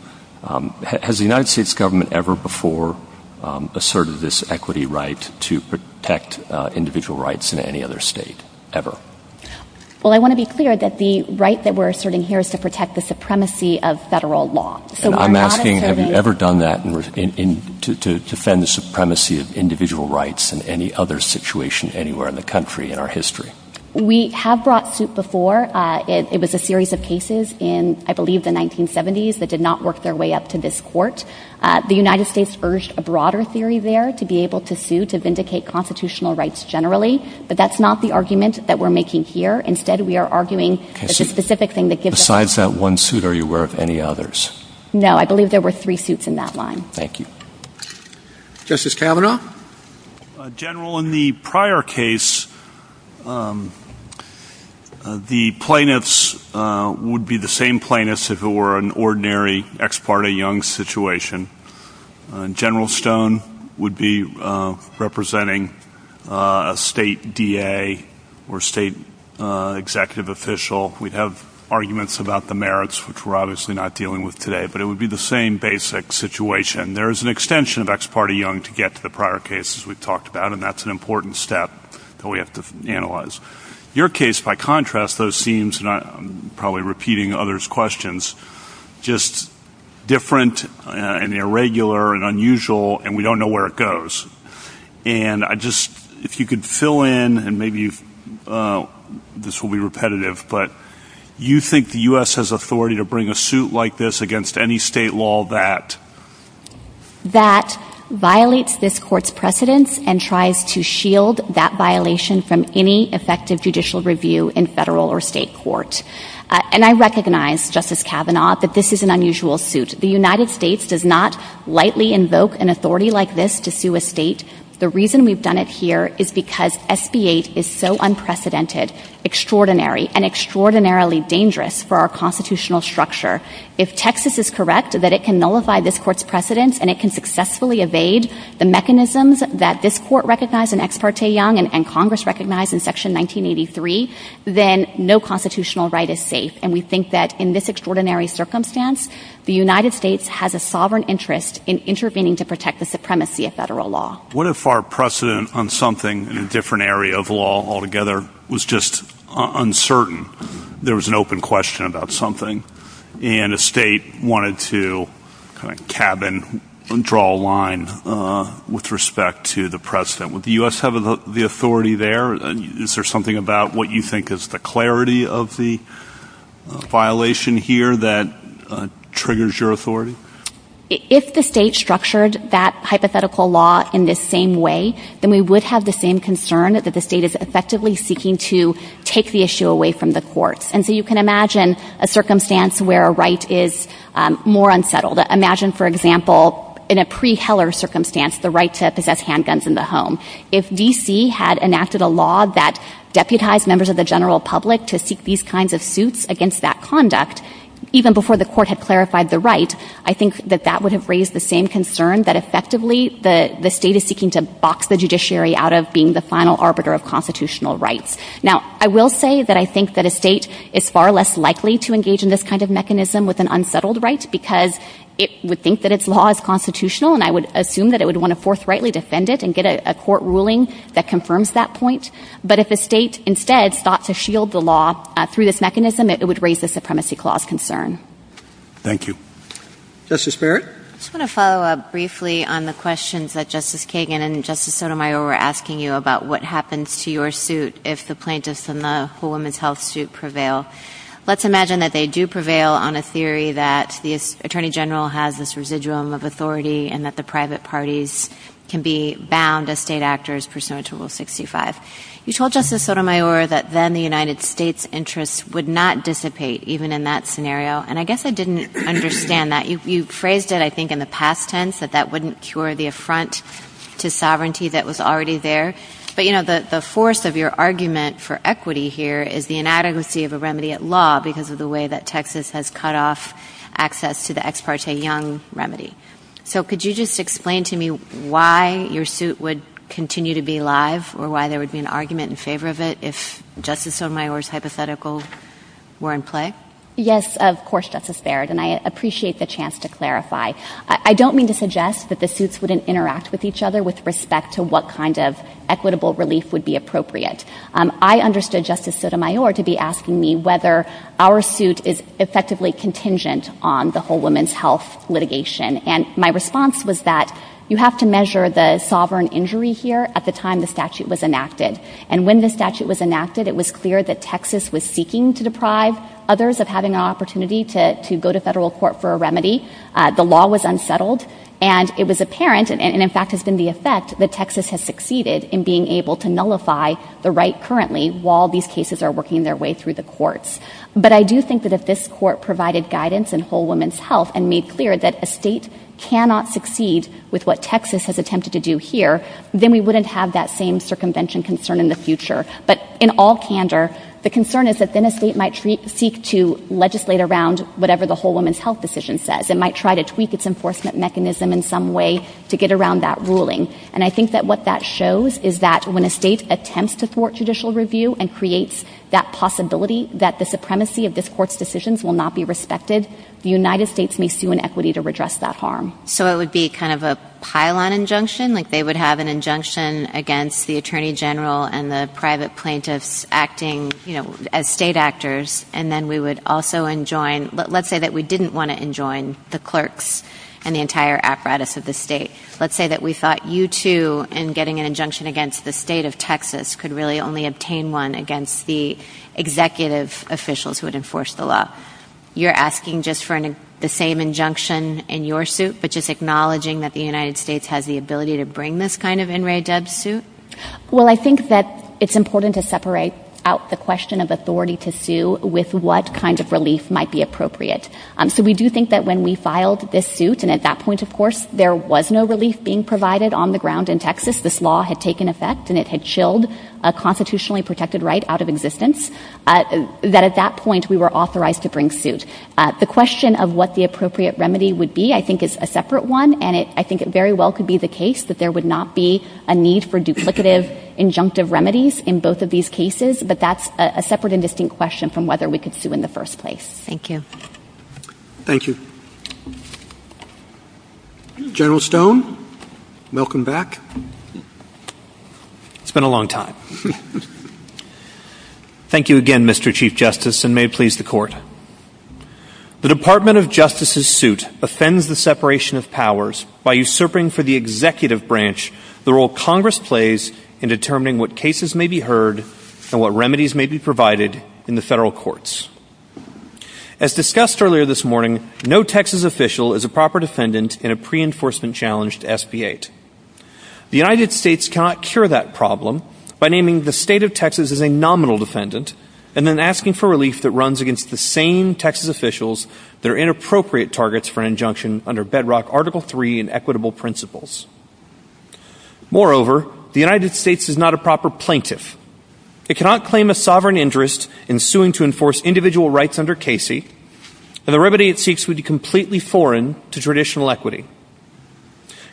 has the United States government ever before asserted this equity right to protect individual rights in any other state, ever? Well, I want to be clear that the right that we're asserting here is to protect the supremacy of federal law. And I'm asking, have you ever done that to defend the supremacy of individual rights in any other situation anywhere in the country in our history? We have brought suit before. It was a series of cases in, I believe, the 1970s that did not work their way up to this court. The United States urged a broader theory there to be but that's not the argument that we're making here. Instead, we are arguing that the specific thing that gives us... Besides that one suit, are you aware of any others? No. I believe there were three suits in that line. Thank you. Justice Kavanaugh? General, in the prior case, the plaintiffs would be the same plaintiffs if it were an ordinary ex parte young situation. General Stone would be representing a state DA or state executive official. We'd have arguments about the merits, which we're obviously not dealing with today, but it would be the same basic situation. There is an extension of ex parte young to get to the prior cases we've talked about and that's an important step that we have to analyze. Your case, by contrast, seems, and I'm probably repeating others' questions, just different and irregular and unusual and we don't know where it goes. If you could fill in, and maybe this will be repetitive, but you think the U.S. has authority to bring a suit like this against any state law that... That violates this court's precedence and tries to shield that violation from any effective judicial review in federal or state court. And I recognize, Justice Kavanaugh, that this is an unusual suit. The United States does not lightly invoke an authority like this to sue a state. The reason we've done it here is because SBA is so unprecedented, extraordinary, and extraordinarily dangerous for our constitutional structure. If Texas is correct, that it can nullify this court's precedence and it can successfully evade the mechanisms that this court recognized in ex parte young and Congress recognized in section 1983, then no constitutional right is safe. And we think that in this extraordinary circumstance, the United States has a sovereign interest in intervening to protect the supremacy of federal law. What if our precedent on something in a different area of law altogether was just uncertain? There was an open question about something and a state wanted to kind of tab and draw a line with respect to the precedent. Would the U.S. have the authority there? Is there something about what you think is the clarity of the violation here that triggers your authority? If the state structured that hypothetical law in this same way, then we would have the same concern that the state is effectively seeking to take the issue away from the court. And so, you can imagine a circumstance where a right is more unsettled. Imagine, for example, in a pre-Heller circumstance, the right to possess handguns in the home. If D.C. had enacted a law that deputized members of the general public to seek these kinds of suits against that conduct, even before the court had clarified the right, I think that that would have raised the same concern that effectively the state is seeking to box the judiciary out of being the final arbiter of constitutional rights. Now, I will say that I think that a state is far less likely to engage in this kind of mechanism with an unsettled right because it would think that its law is constitutional, and I would assume that it would want to forthrightly defend it and get a court ruling that confirms that point. But if the state instead sought to shield the law through this mechanism, it would raise the Supremacy Clause concern. Thank you. Justice Barrett? I just want to follow up briefly on the questions that Justice Kagan and Justice Sotomayor were asking you about what happens to your suit if the plaintiffs in the Women's Health suit prevail. Let's imagine that they do prevail on a theory that the Attorney General has this residuum of authority and that the private parties can be bound as state actors pursuant to Rule 65. You told Justice Sotomayor that then the United States' interest would not dissipate even in that scenario, and I guess I didn't understand that. You phrased it, I think, in the past tense that that wouldn't cure the affront to sovereignty that was already there. But, you know, the force of your argument for equity here is the inadequacy of a remedy at law because of the way that Texas has cut off access to the Ex Parte Young remedy. So could you just explain to me why your suit would continue to be live or why there would be an argument in favor of it if Justice Sotomayor's hypotheticals were in play? Yes, of course, Justice Barrett, and I appreciate the chance to clarify. I don't mean to suggest that the suits wouldn't interact with each other with respect to what kind of Justice Sotomayor I'm talking about, but I understand Justice Sotomayor to be asking me whether our suit is effectively contingent on the whole women's health litigation. And my response was that you have to measure the sovereign injury here at the time the statute was enacted, and when the statute was enacted, it was clear that Texas was seeking to deprive others of having an opportunity to go to federal court for a remedy. The law was unsettled, and it was apparent, and in fact has been the effect, that Texas has succeeded in being able to nullify the right currently while these cases are working their way through the courts. But I do think that if this court provided guidance in whole women's health and made clear that a state cannot succeed with what Texas has attempted to do here, then we wouldn't have that same circumvention concern in the future. But in all candor, the concern is that then a state might seek to legislate around whatever the whole women's health decision says. It might try to tweak its enforcement mechanism in some way to get around that ruling. And I think that what that shows is that when a state attempts to thwart judicial review and creates that possibility that the supremacy of this court's decisions will not be respected, the United States may sue in equity to redress that harm. So it would be kind of a pile-on injunction, like they would have an injunction against the attorney general and the private plaintiffs acting as state actors, and then we would also enjoin, let's say that we didn't want to enjoin the clerks and the entire the state of Texas could really only obtain one against the executive officials who would enforce the law. You're asking just for the same injunction in your suit, but just acknowledging that the United States has the ability to bring this kind of in re deb suit? Well, I think that it's important to separate out the question of authority to sue with what kind of relief might be appropriate. So we do think that when we filed this suit, and at that point, of course, there was no relief being and it had chilled a constitutionally protected right out of existence, that at that point, we were authorized to bring suit. The question of what the appropriate remedy would be, I think, is a separate one, and I think it very well could be the case that there would not be a need for duplicative injunctive remedies in both of these cases, but that's a separate and distinct question from whether we could sue in the first place. Thank you. Thank you. General Stone, welcome back. It's been a long time. Thank you again, Mr. Chief Justice, and may it please the court. The Department of Justice's suit offends the separation of powers by usurping for the executive branch the role Congress plays in determining what cases may be heard and what remedies may be provided in the federal courts. As discussed earlier this morning, no Texas official is a proper defendant in a pre-enforcement challenge to SB 8. The United States cannot cure that problem by naming the state of Texas as a nominal defendant and then asking for relief that runs against the same Texas officials that are inappropriate targets for injunction under bedrock Article III and equitable principles. Moreover, the United States is not a proper plaintiff. It cannot claim a sovereign interest in suing to enforce individual rights under Casey and the remedy it seeks would be completely foreign to traditional equity.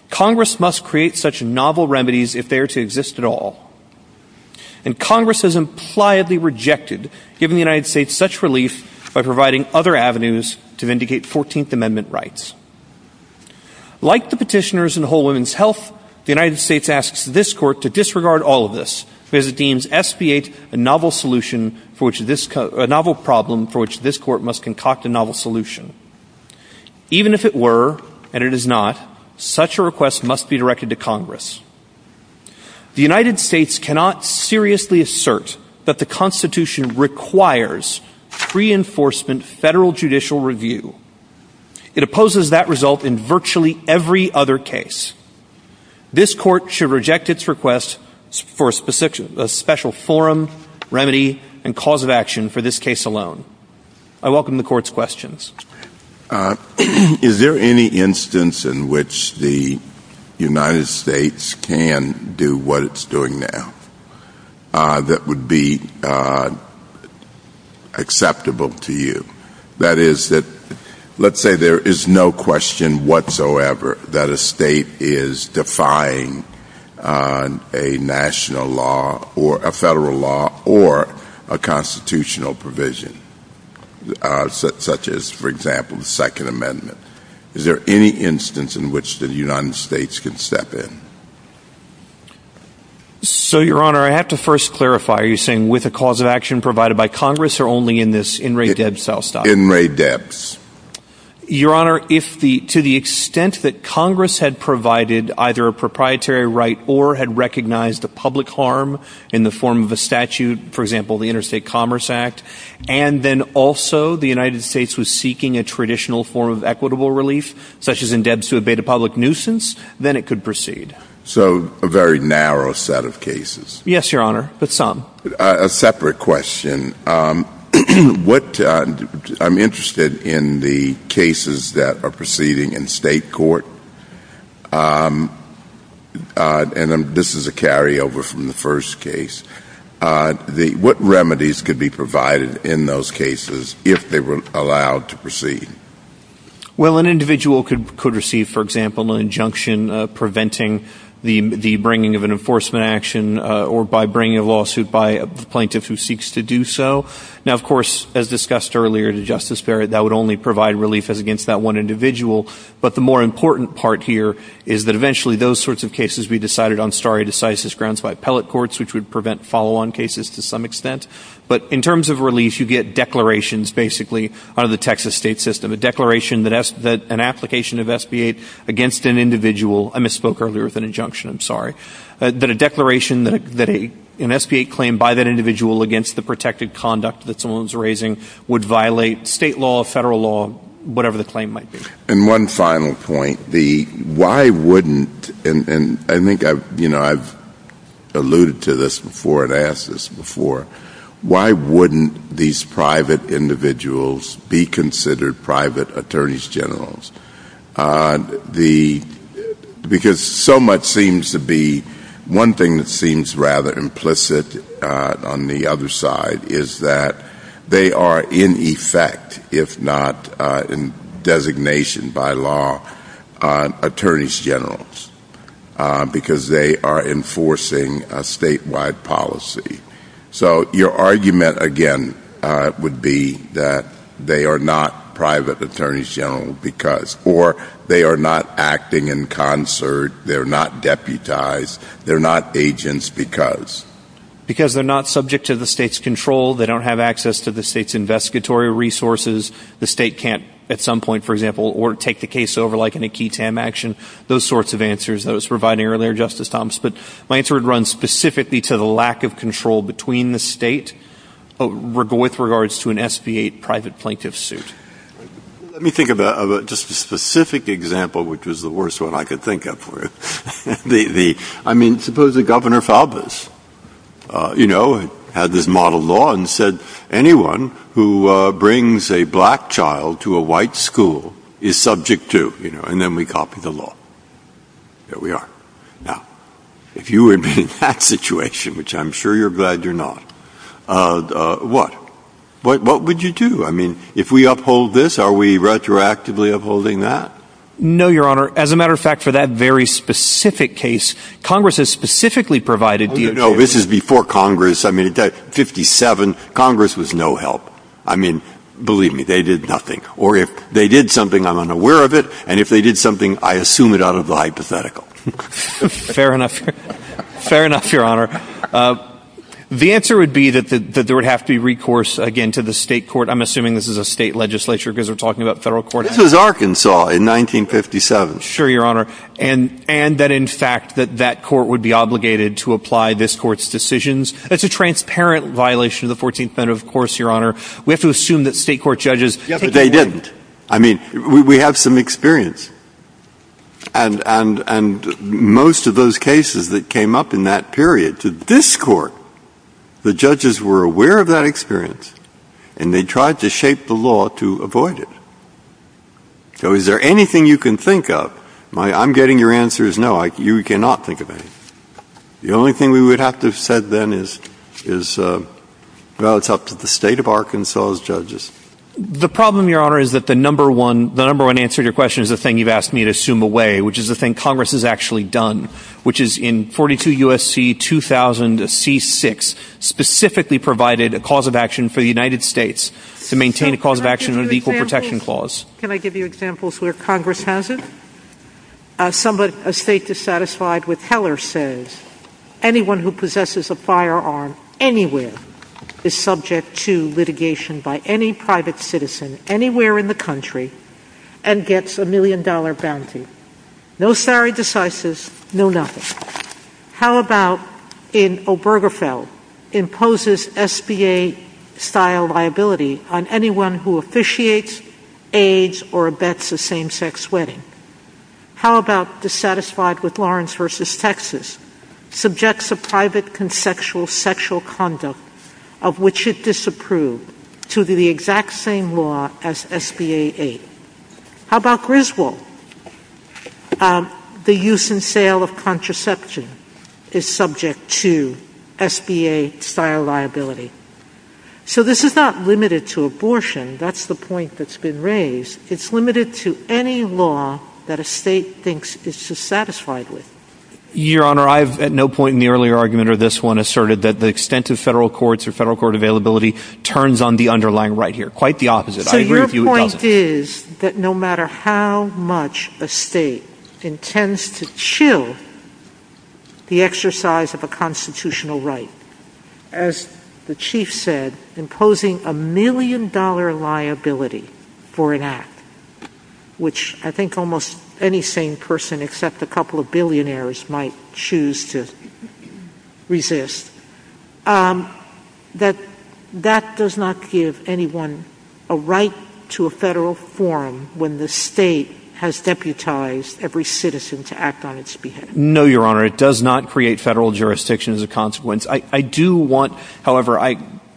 Congress must create such novel remedies if they are to exist at all, and Congress has impliedly rejected giving the United States such relief by providing other avenues to vindicate 14th Amendment rights. Like the petitioners in Whole Woman's Health, the United States asks this court to disregard all of this because it deems SB 8 a novel problem for which this court must concoct a novel solution. Even if it were, and it is not, such a request must be directed to Congress. The United States cannot seriously assert that the Constitution requires pre-enforcement federal judicial review. It opposes that result in virtually every other case. This court should reject its request for a special forum, remedy, and cause of action for this case alone. I welcome the court's questions. Is there any instance in which the United States can do what it's doing now that would be acceptable to you? That is, let's say there is no question whatsoever that a state is defying on a national law or a federal law or a constitutional provision, such as, for example, the Second Amendment. Is there any instance in which the United States could step in? So, Your Honor, I have to first clarify. Are you saying with a cause of action provided by Congress or only in this in re debs style? In re debs. Your Honor, to the extent that Congress had provided either a proprietary right or had recognized the public harm in the form of a statute, for example, the Interstate Commerce Act, and then also the United States was seeking a traditional form of equitable relief, such as in debs to abate a public nuisance, then it could proceed. So a very narrow set of cases. Yes, Your Honor, but some. A separate question. I'm interested in the cases that are proceeding in state court. And this is a carryover from the first case. What remedies could be provided in those cases if they were allowed to proceed? Well, an individual could receive, for example, an injunction preventing the bringing of an plaintiff who seeks to do so. Now, of course, as discussed earlier to Justice Barrett, that would only provide relief against that one individual. But the more important part here is that eventually those sorts of cases be decided on stare decisis grounds by appellate courts, which would prevent follow-on cases to some extent. But in terms of relief, you get declarations basically out of the Texas state system, a declaration that an application of SB-8 against an individual. I misspoke earlier with an injunction. I'm sorry. But a declaration that an SB-8 claim by that individual against the protected conduct that someone's raising would violate state law, federal law, whatever the claim might be. And one final point. Why wouldn't, and I think I've alluded to this before and asked this before, why wouldn't these private individuals be considered private attorneys generals? Because so much seems to be, one thing that seems rather implicit on the other side is that they are in effect, if not in designation by law, attorneys generals, because they are enforcing a statewide policy. So your argument again would be that they are not private attorneys generals because, or they are not acting in concert. They're not deputized. They're not agents because. Because they're not subject to the state's control. They don't have access to the state's investigatory resources. The state can't, at some point, for example, or take the case over like in a key TAM action, those sorts of answers that I was providing earlier, Justice Thomas. But my answer would run specifically to the lack of control between the state with regards to an SB-8 private plaintiff suit. Let me think about just a specific example, which was the worst one I could think of for it. I mean, suppose that Governor Faubus had this model law and said, anyone who brings a black child to a white school is subject to, and then we copy the law. There we are. Now, if you were in that situation, which I'm sure you're glad you're not, what would you do? If we uphold this, are we retroactively upholding that? No, Your Honor. As a matter of fact, for that very specific case, Congress has specifically provided— Oh, you know, this is before Congress. I mean, in 1957, Congress was no help. Believe me, they did nothing. Or if they did something, I'm unaware of it. And if they did something, I assume it out of the hypothetical. Fair enough. Fair enough, Your Honor. The answer would be that there would have to be recourse, again, to the state court. I'm assuming this is a state legislature because we're talking about federal court. This is Arkansas in 1957. Sure, Your Honor. And that, in fact, that that court would be obligated to apply this court's decisions. That's a transparent violation of the 14th Amendment, of course, Your Honor. We have to assume that state court judges— Yeah, but they didn't. I mean, we have some experience. And most of those cases that came up in that period to this court, the judges were aware of that experience, and they tried to shape the law to avoid it. So is there anything you can think of? I'm getting your answer is no. You cannot think of anything. The only thing we would have to have said then is, well, it's up to the state of Arkansas's judges. The problem, Your Honor, is that the number one answer to your question is the thing you've asked me to assume away, which is the thing Congress has actually done, which is in 42 U.S.C. 2000, the C-6 specifically provided a cause of action for the United States to maintain a cause of action of equal protection clause. Can I give you examples where Congress has it? A state dissatisfied with Heller says anyone who possesses a firearm anywhere is subject to litigation by any private citizen anywhere in the country and gets a million-dollar bounty. No salary decises, no nothing. How about in Obergefell? Imposes SBA-style liability on anyone who officiates, aids, or abets a same-sex wedding. How about dissatisfied with Lawrence v. Texas? Subjects a private conceptual sexual conduct of which it disapproved to the exact same law as SBA-8. How about Griswold? The use and sale of contraception is subject to SBA-style liability. So this is not limited to abortion. That's the point that's been raised. It's limited to any law that a state thinks it's satisfied with. Your Honor, I've at no point in the earlier argument of this one asserted that the extent of federal courts or federal court availability turns on the underlying right here. Quite the opposite. I agree with you. The point is that no matter how much a state intends to chill the exercise of a constitutional right, as the Chief said, imposing a million-dollar liability for an act, which I think almost any sane person except a couple of billionaires might choose to resist, that that does not give anyone a right to a federal forum when the state has deputized every citizen to act on its behalf. No, Your Honor. It does not create federal jurisdiction as a consequence. I do want, however,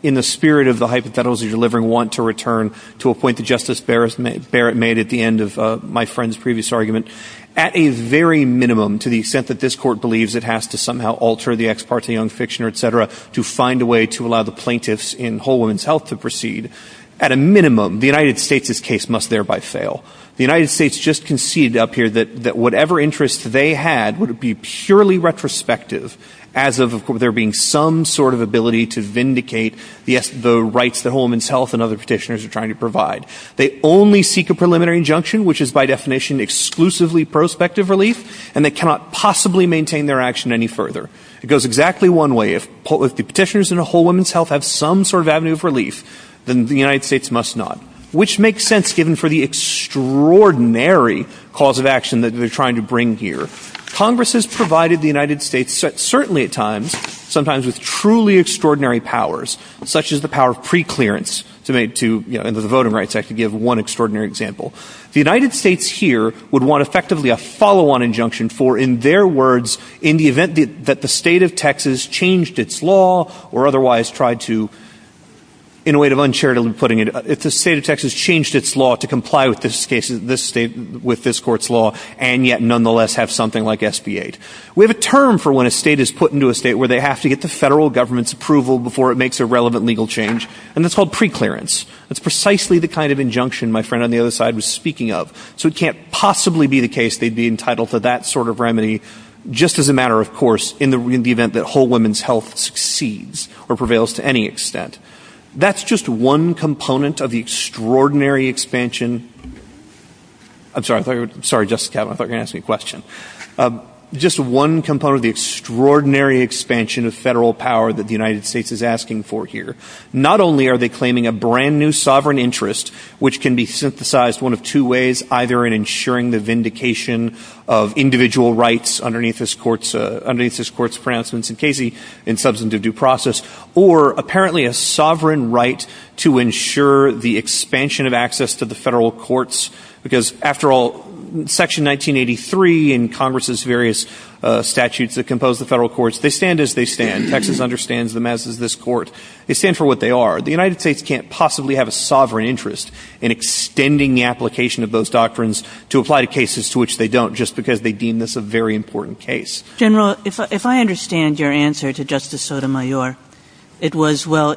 in the spirit of the hypotheticals that you're delivering, want to return to a point that Justice Barrett made at the end of my friend's previous argument. At a very minimum, to the extent that this court believes it has to somehow alter the ex parte young fiction, et cetera, to find a way to allow the plaintiffs in Whole Woman's Health to proceed, at a minimum, the United States' case must thereby fail. The United States just conceded up here that whatever interests they had would be purely retrospective as of there being some sort of ability to vindicate the rights that Whole Woman's Health and other petitioners are trying to provide. They only seek a preliminary injunction, which is by definition exclusively prospective relief, and they cannot possibly maintain their action any further. It goes exactly one way. If the petitioners in Whole Woman's Health have some sort of avenue of relief, then the United States must not, which makes sense given for the extraordinary cause of action that they're trying to bring here. Congress has provided the United States, certainly at times, sometimes with truly extraordinary powers, such as the power of preclearance. And to the voting rights, I could give one extraordinary example. The United States here would want effectively a follow-on injunction for, in their words, in the event that the state of Texas changed its law or otherwise tried to, in a way of uncharitably putting it, if the state of Texas changed its law to comply with this court's law and yet nonetheless have something like SB-8. We have a term for when a state is put into a state where they have to get the federal government's approval before it makes a relevant legal change, and that's called preclearance. That's precisely the kind of injunction my friend on the other side was speaking of. So it can't possibly be the case they'd be entitled to that sort of remedy, just as a matter of course, in the event that whole women's health succeeds or prevails to any extent. That's just one component of the extraordinary expansion of federal power that the United States is asking for here. Not only are they claiming a brand new sovereign interest, which can be synthesized one of two ways, either in ensuring the vindication of individual rights underneath this court's pronouncements in substance of due process, or apparently a sovereign right to ensure the expansion of access to the federal courts, because after all, Section 1983 and Congress's various statutes that compose the federal courts, they stand as they stand. Texas understands them as does this court. They stand for what they are. The United States can't possibly have a sovereign interest in extending the application of those doctrines to apply to cases to which they don't just because they deem this a very important case. General, if I understand your answer to Justice Sotomayor, it was, well,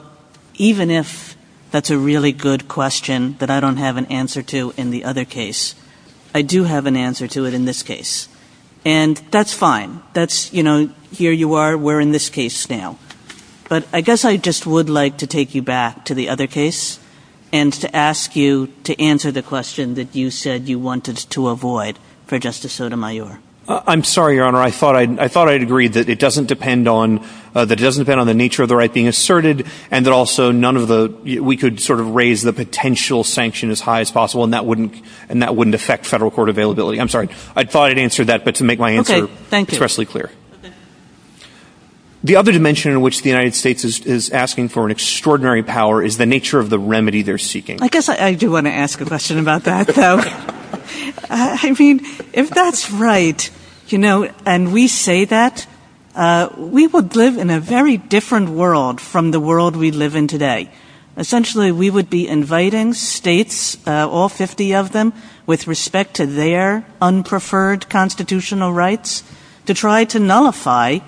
even if that's a really good question that I don't have an answer to in the other case, I do have an answer to it in this case. And that's fine. That's, you know, here you are, we're in this case now. But I guess I just would like to take you back to the other case and to ask you to answer the question that you said you wanted to avoid for Justice Sotomayor. I'm sorry, Your Honor. I thought I'd agreed that it doesn't depend on the nature of the right being asserted and that also none of the, we could sort of raise the potential sanction as high as possible and that wouldn't affect federal court availability. I'm sorry. I thought I'd answered that, but to make my answer expressly clear. The other dimension in which the United States is asking for an extraordinary power is the nature of the remedy they're seeking. I guess I do want to ask a question about that. I mean, if that's right, you know, and we say that we would live in a very different world from the world we live in today. Essentially, we would be inviting states, all 50 of them, with respect to their unpreferred constitutional rights, to try to nullify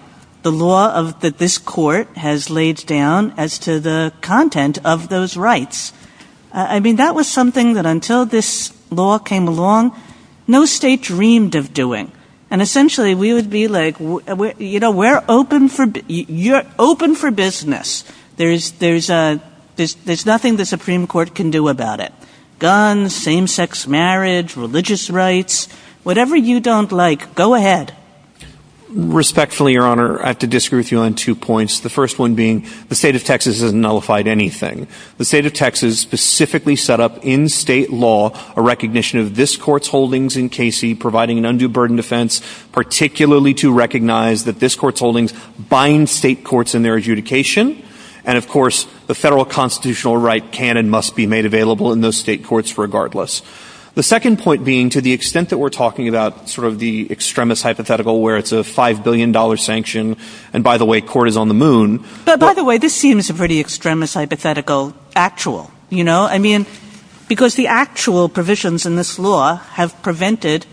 the law that this court has laid down as to the content of those rights. I mean, that was something that until this law came along, no state dreamed of doing. And essentially, we would be like, you know, we're open for business. There's nothing the Supreme Court can do about it. Guns, same-sex marriage, religious rights, whatever you don't like, go ahead. Respectfully, Your Honor, I have to disagree with you on two points. The first one being the state of Texas hasn't nullified anything. The state of Texas specifically set up in state law a recognition of this court's holdings in Casey providing an undue burden defense, particularly to recognize that this court's holdings bind state courts in their adjudication. And of course, the federal constitutional right can and must be made available in those state courts regardless. The second point being, to the extent that we're talking about sort of the extremist hypothetical where it's a $5 billion sanction, and by the way, court is on the moon. But by the way, this seems a pretty extremist hypothetical actual, you know? I mean, because the actual provisions in this law have prevented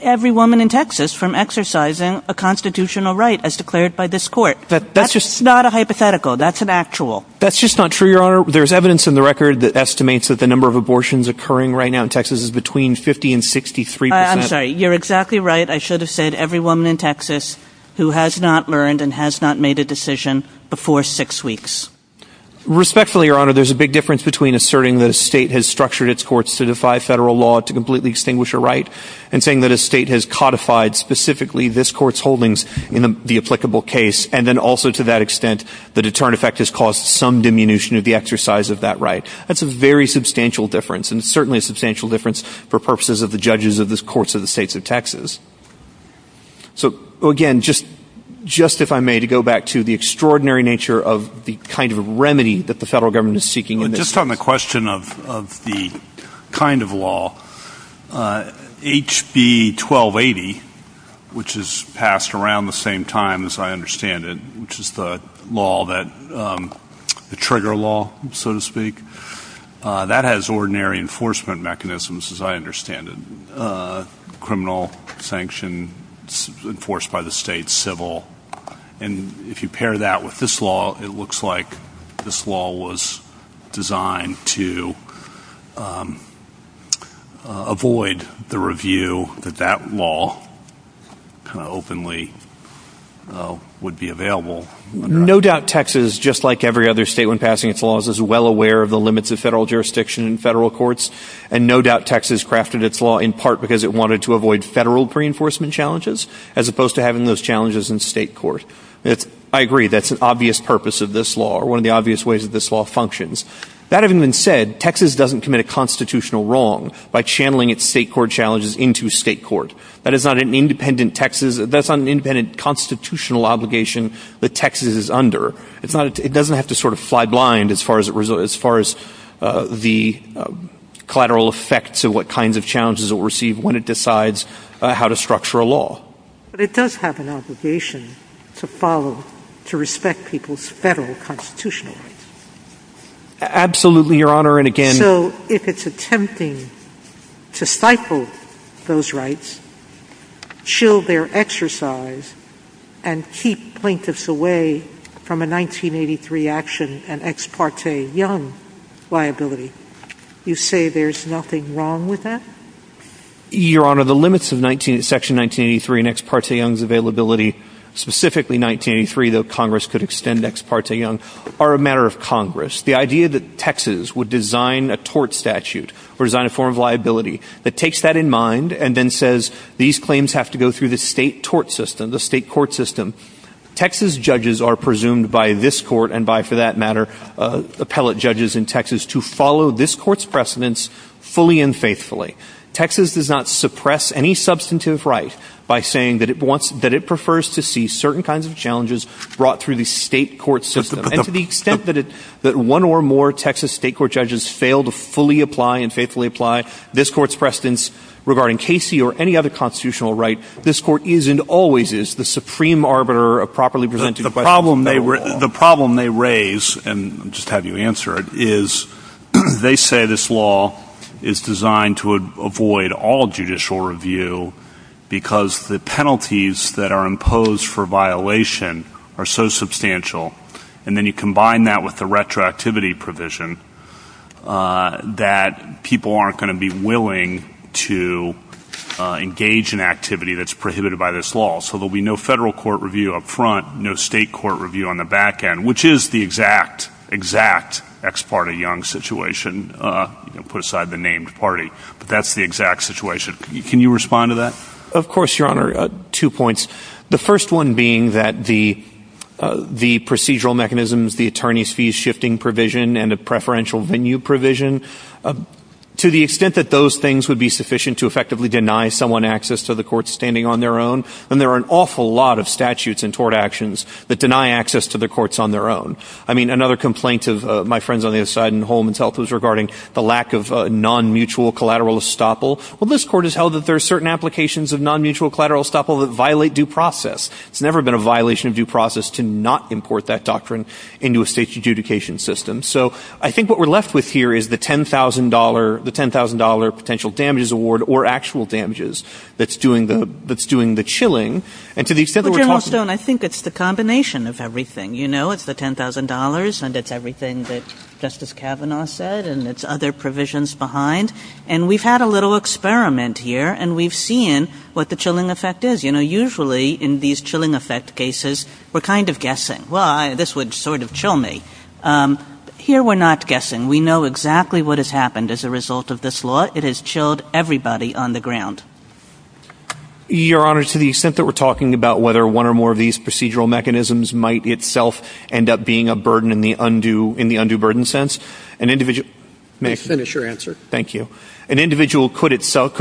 every woman in Texas from exercising a constitutional right as declared by this court. That's just not a hypothetical. That's an actual. That's just not true, Your Honor. There's evidence in the record that estimates that the number of abortions occurring right now in Texas is between 50 and 63 percent. I'm sorry. You're exactly right. I should have said every woman in Texas who has not learned and has not made a decision before six weeks. Respectfully, Your Honor, there's a big difference between asserting that a state has structured its courts to defy federal law to completely extinguish a right and saying that state has codified specifically this court's holdings in the applicable case, and then also to that extent, the deterrent effect has caused some diminution of the exercise of that right. That's a very substantial difference, and certainly a substantial difference for purposes of the judges of the courts of the states of Texas. So, again, just if I may, to go back to the extraordinary nature of the kind of remedy that the federal government is seeking. Just on the question of the kind of law, HB 1280, which is passed around the same time as I understand it, which is the law that, the trigger law, so to speak, that has ordinary enforcement mechanisms as I understand it. Criminal, sanction, enforced by the state, civil, and if you pair that with this law, it looks like this law was designed to avoid the review that that law kind of openly would be available. No doubt Texas, just like every other state when passing its laws, is well aware of the limits of federal jurisdiction and federal courts, and no doubt Texas crafted its law in part because it wanted to avoid federal reinforcement challenges as opposed to having those challenges in state court. I agree, that's an obvious purpose of this law, or one of the obvious ways that this law functions. That having been said, Texas doesn't commit a constitutional wrong by channeling its state court challenges into state court. That is not an independent Texas, that's not an independent constitutional obligation that Texas is under. It's not, it doesn't have to sort of fly blind as far as the collateral effects of But it does have an obligation to follow, to respect people's federal constitutional rights. Absolutely, your honor, and again So if it's attempting to stifle those rights, chill their exercise, and keep plaintiffs away from a 1983 action and ex parte young liability, you say there's nothing wrong with that? Your honor, the limits of section 1983 and ex parte young's availability, specifically 1983, though Congress could extend ex parte young, are a matter of Congress. The idea that Texas would design a tort statute, or design a form of liability, that takes that in mind, and then says these claims have to go through the state tort system, the state court system. Texas judges are presumed by this court, and by for that matter, appellate judges in Texas, to follow this court's precedence fully and faithfully. Texas does not suppress any substantive right by saying that it prefers to see certain kinds of challenges brought through the state court system. And to the extent that one or more Texas state court judges fail to fully apply and faithfully apply this court's precedence regarding Casey or any other constitutional right, this court is, and always is, the supreme arbiter of properly presenting the question. The problem they raise, and I'll just have you answer it, is they say this law is designed to avoid all judicial review, because the penalties that are imposed for violation are so substantial, and then you combine that with the retroactivity provision, that people aren't going to be willing to engage in activity that's prohibited by this law. So there'll be no federal court review up front, no state court review on the back end, which is the exact, exact ex parte Young situation, you can put aside the named party, but that's the exact situation. Can you respond to that? Of course, Your Honor. Two points. The first one being that the procedural mechanisms, the attorney's fees shifting provision, and the preferential venue provision, to the extent that those things would be sufficient to effectively deny someone access to the courts standing on their own, and there are an awful lot of statutes and tort actions that deny access to the courts on their own. I mean, another complaint of my friends on the other side in Holman's Health was regarding the lack of non-mutual collateral estoppel. Well, this court has held that there are certain applications of non-mutual collateral estoppel that violate due process. It's never been a violation of due process to not import that doctrine into a state's adjudication system. So I think what we're left with here is the $10,000 potential damages award, or actual damages, that's doing the chilling, and to the extent that we're talking about— Well, General Stone, I think it's the combination of everything. You know, it's the $10,000, and it's everything that Justice Kavanaugh said, and it's other provisions behind. And we've had a little experiment here, and we've seen what the chilling effect is. You know, usually in these chilling effect cases, we're kind of guessing, well, this would sort of chill me. Here, we're not guessing. We know exactly what has happened as a result of this law. It has chilled everybody on the ground. Your Honor, to the extent that we're talking about whether one or more of these procedural mechanisms might itself end up being a burden in the undue burden sense, an individual— Please finish your answer. Thank you. An individual could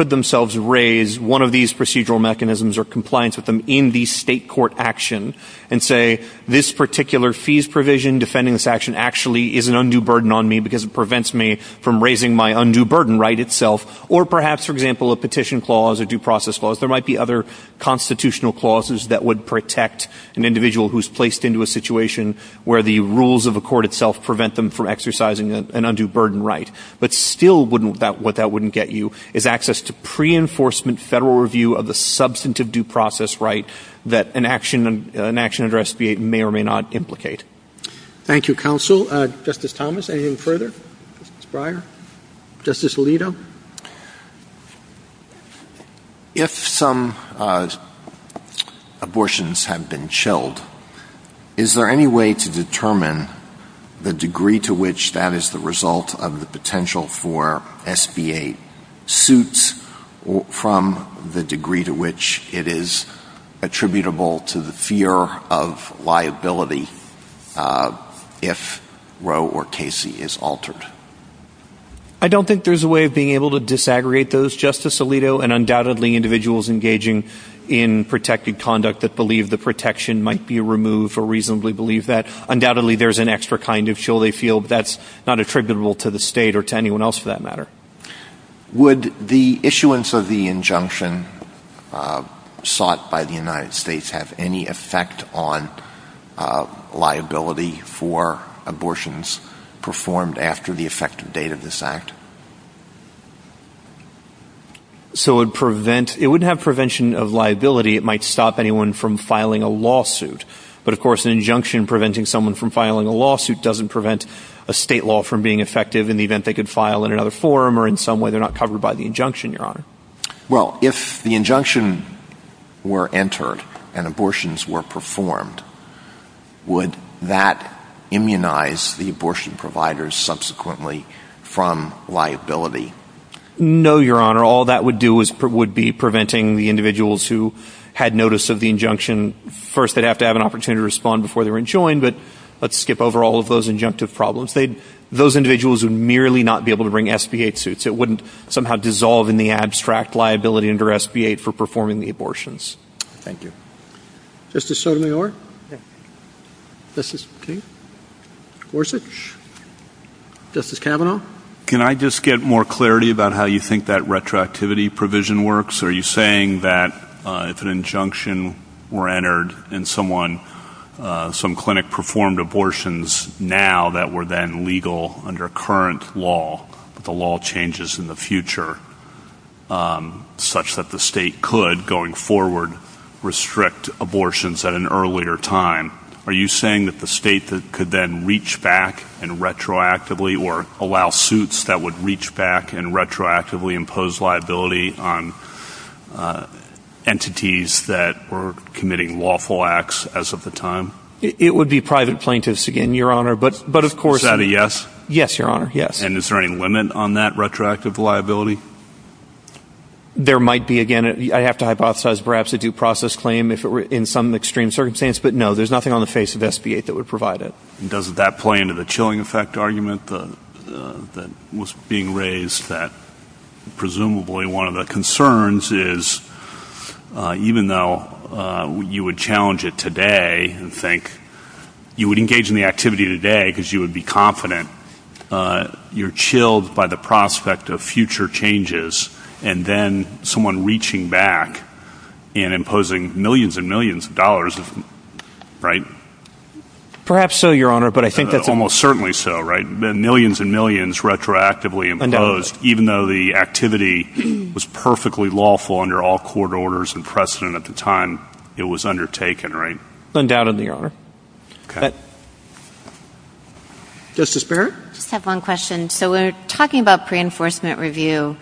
themselves raise one of these procedural mechanisms or compliance with them in the state court action and say, this particular fees provision defending this action actually is an undue burden on me because it prevents me from raising my undue burden right itself. Or perhaps, for example, a petition clause, a due process clause. There might be other constitutional clauses that would protect an individual who's placed into a situation where the rules of the court itself prevent them from exercising an undue burden right. But still, what that wouldn't get you is access to pre-enforcement federal review of the substantive due process right that an action under SB 8 may or may not implicate. Thank you, counsel. Justice Thomas, anything further? Justice Breyer? Justice Alito? If some abortions have been chilled, is there any way to determine the degree to which that is the result of the potential for SB 8 suits from the degree to which it is attributable to the fear of liability if Roe or Casey is altered? I don't think there's a way of being able to disaggregate those, Justice Alito. And undoubtedly, individuals engaging in protected conduct that believe the protection might be removed or reasonably believe that, undoubtedly, there's an extra kind of chill they feel that's not attributable to the state or to anyone else for that matter. Would the issuance of the injunction sought by the United States have any effect on liability for abortions performed after the effective date of this act? It wouldn't have prevention of liability. It might stop anyone from filing a lawsuit. But of course, an injunction preventing someone from filing a lawsuit doesn't prevent a state law from being effective in the event they could file in another form or in some way Well, if the injunction were entered and abortions were performed, would that immunize the abortion providers subsequently from liability? No, Your Honor. All that would do is would be preventing the individuals who had notice of the injunction. First, they'd have to have an opportunity to respond before they were enjoined. But let's skip over all of those injunctive problems. Those individuals would merely not be able to bring SB 8 suits. It wouldn't somehow dissolve in the abstract liability under SB 8 for performing the abortions. Thank you. Justice Sotomayor? Justice King? Gorsuch? Justice Kavanaugh? Can I just get more clarity about how you think that retroactivity provision works? Are you saying that if an injunction were entered and someone, some clinic performed abortions now that were then legal under current law, the law changes in the future such that the state could, going forward, restrict abortions at an earlier time? Are you saying that the state could then reach back and retroactively or allow suits that would reach back and retroactively impose liability on entities that were committing lawful acts as of the time? It would be private plaintiffs. But of course... Is that a yes? Yes, Your Honor, yes. And is there any limit on that retroactive liability? There might be. Again, I have to hypothesize perhaps a due process claim if it were in some extreme circumstance. But no, there's nothing on the face of SB 8 that would provide it. Doesn't that play into the chilling effect argument that was being raised that presumably one of the concerns is even though you would challenge it today and think you would engage in the activity today because you would be confident, you're chilled by the prospect of future changes and then someone reaching back and imposing millions and millions of dollars, right? Perhaps so, Your Honor, but I think that... Almost certainly so, right? Millions and millions retroactively imposed even though the activity was perfectly lawful under all court orders and precedent at the time it was undertaken, right? Undoubtedly, Your Honor. Okay. Justice Barrett? I just have one question. So we're talking about pre-enforcement review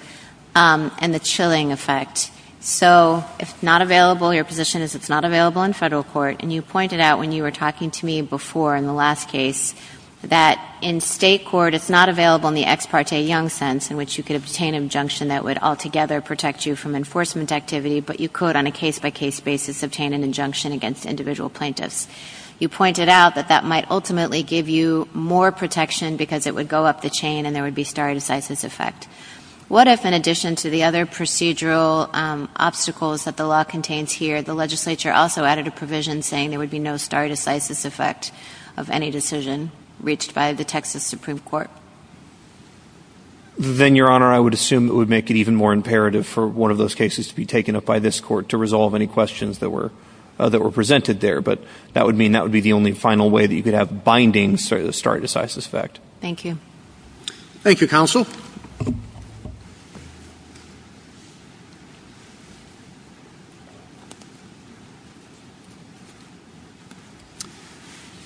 and the chilling effect. So if it's not available, your position is it's not available in federal court. And you pointed out when you were talking to me before in the last case that in state court, it's not available in the ex parte young sense in which you could obtain an injunction that would altogether protect you from enforcement activity, but you could on a case-by-case basis obtain an injunction against individual plaintiffs. You pointed out that that might ultimately give you more protection because it would go up the chain and there would be stare decisis effect. What if in addition to the other procedural obstacles that the law contains here, the legislature also added a provision saying there would be no stare decisis effect of any decision reached by the Texas Supreme Court? Then, Your Honor, I would assume it would make it even more imperative for one of those cases to be taken up by this court to resolve any questions that were presented there. That would mean that would be the only final way that you could have binding stare decisis effect. Thank you. Thank you, counsel.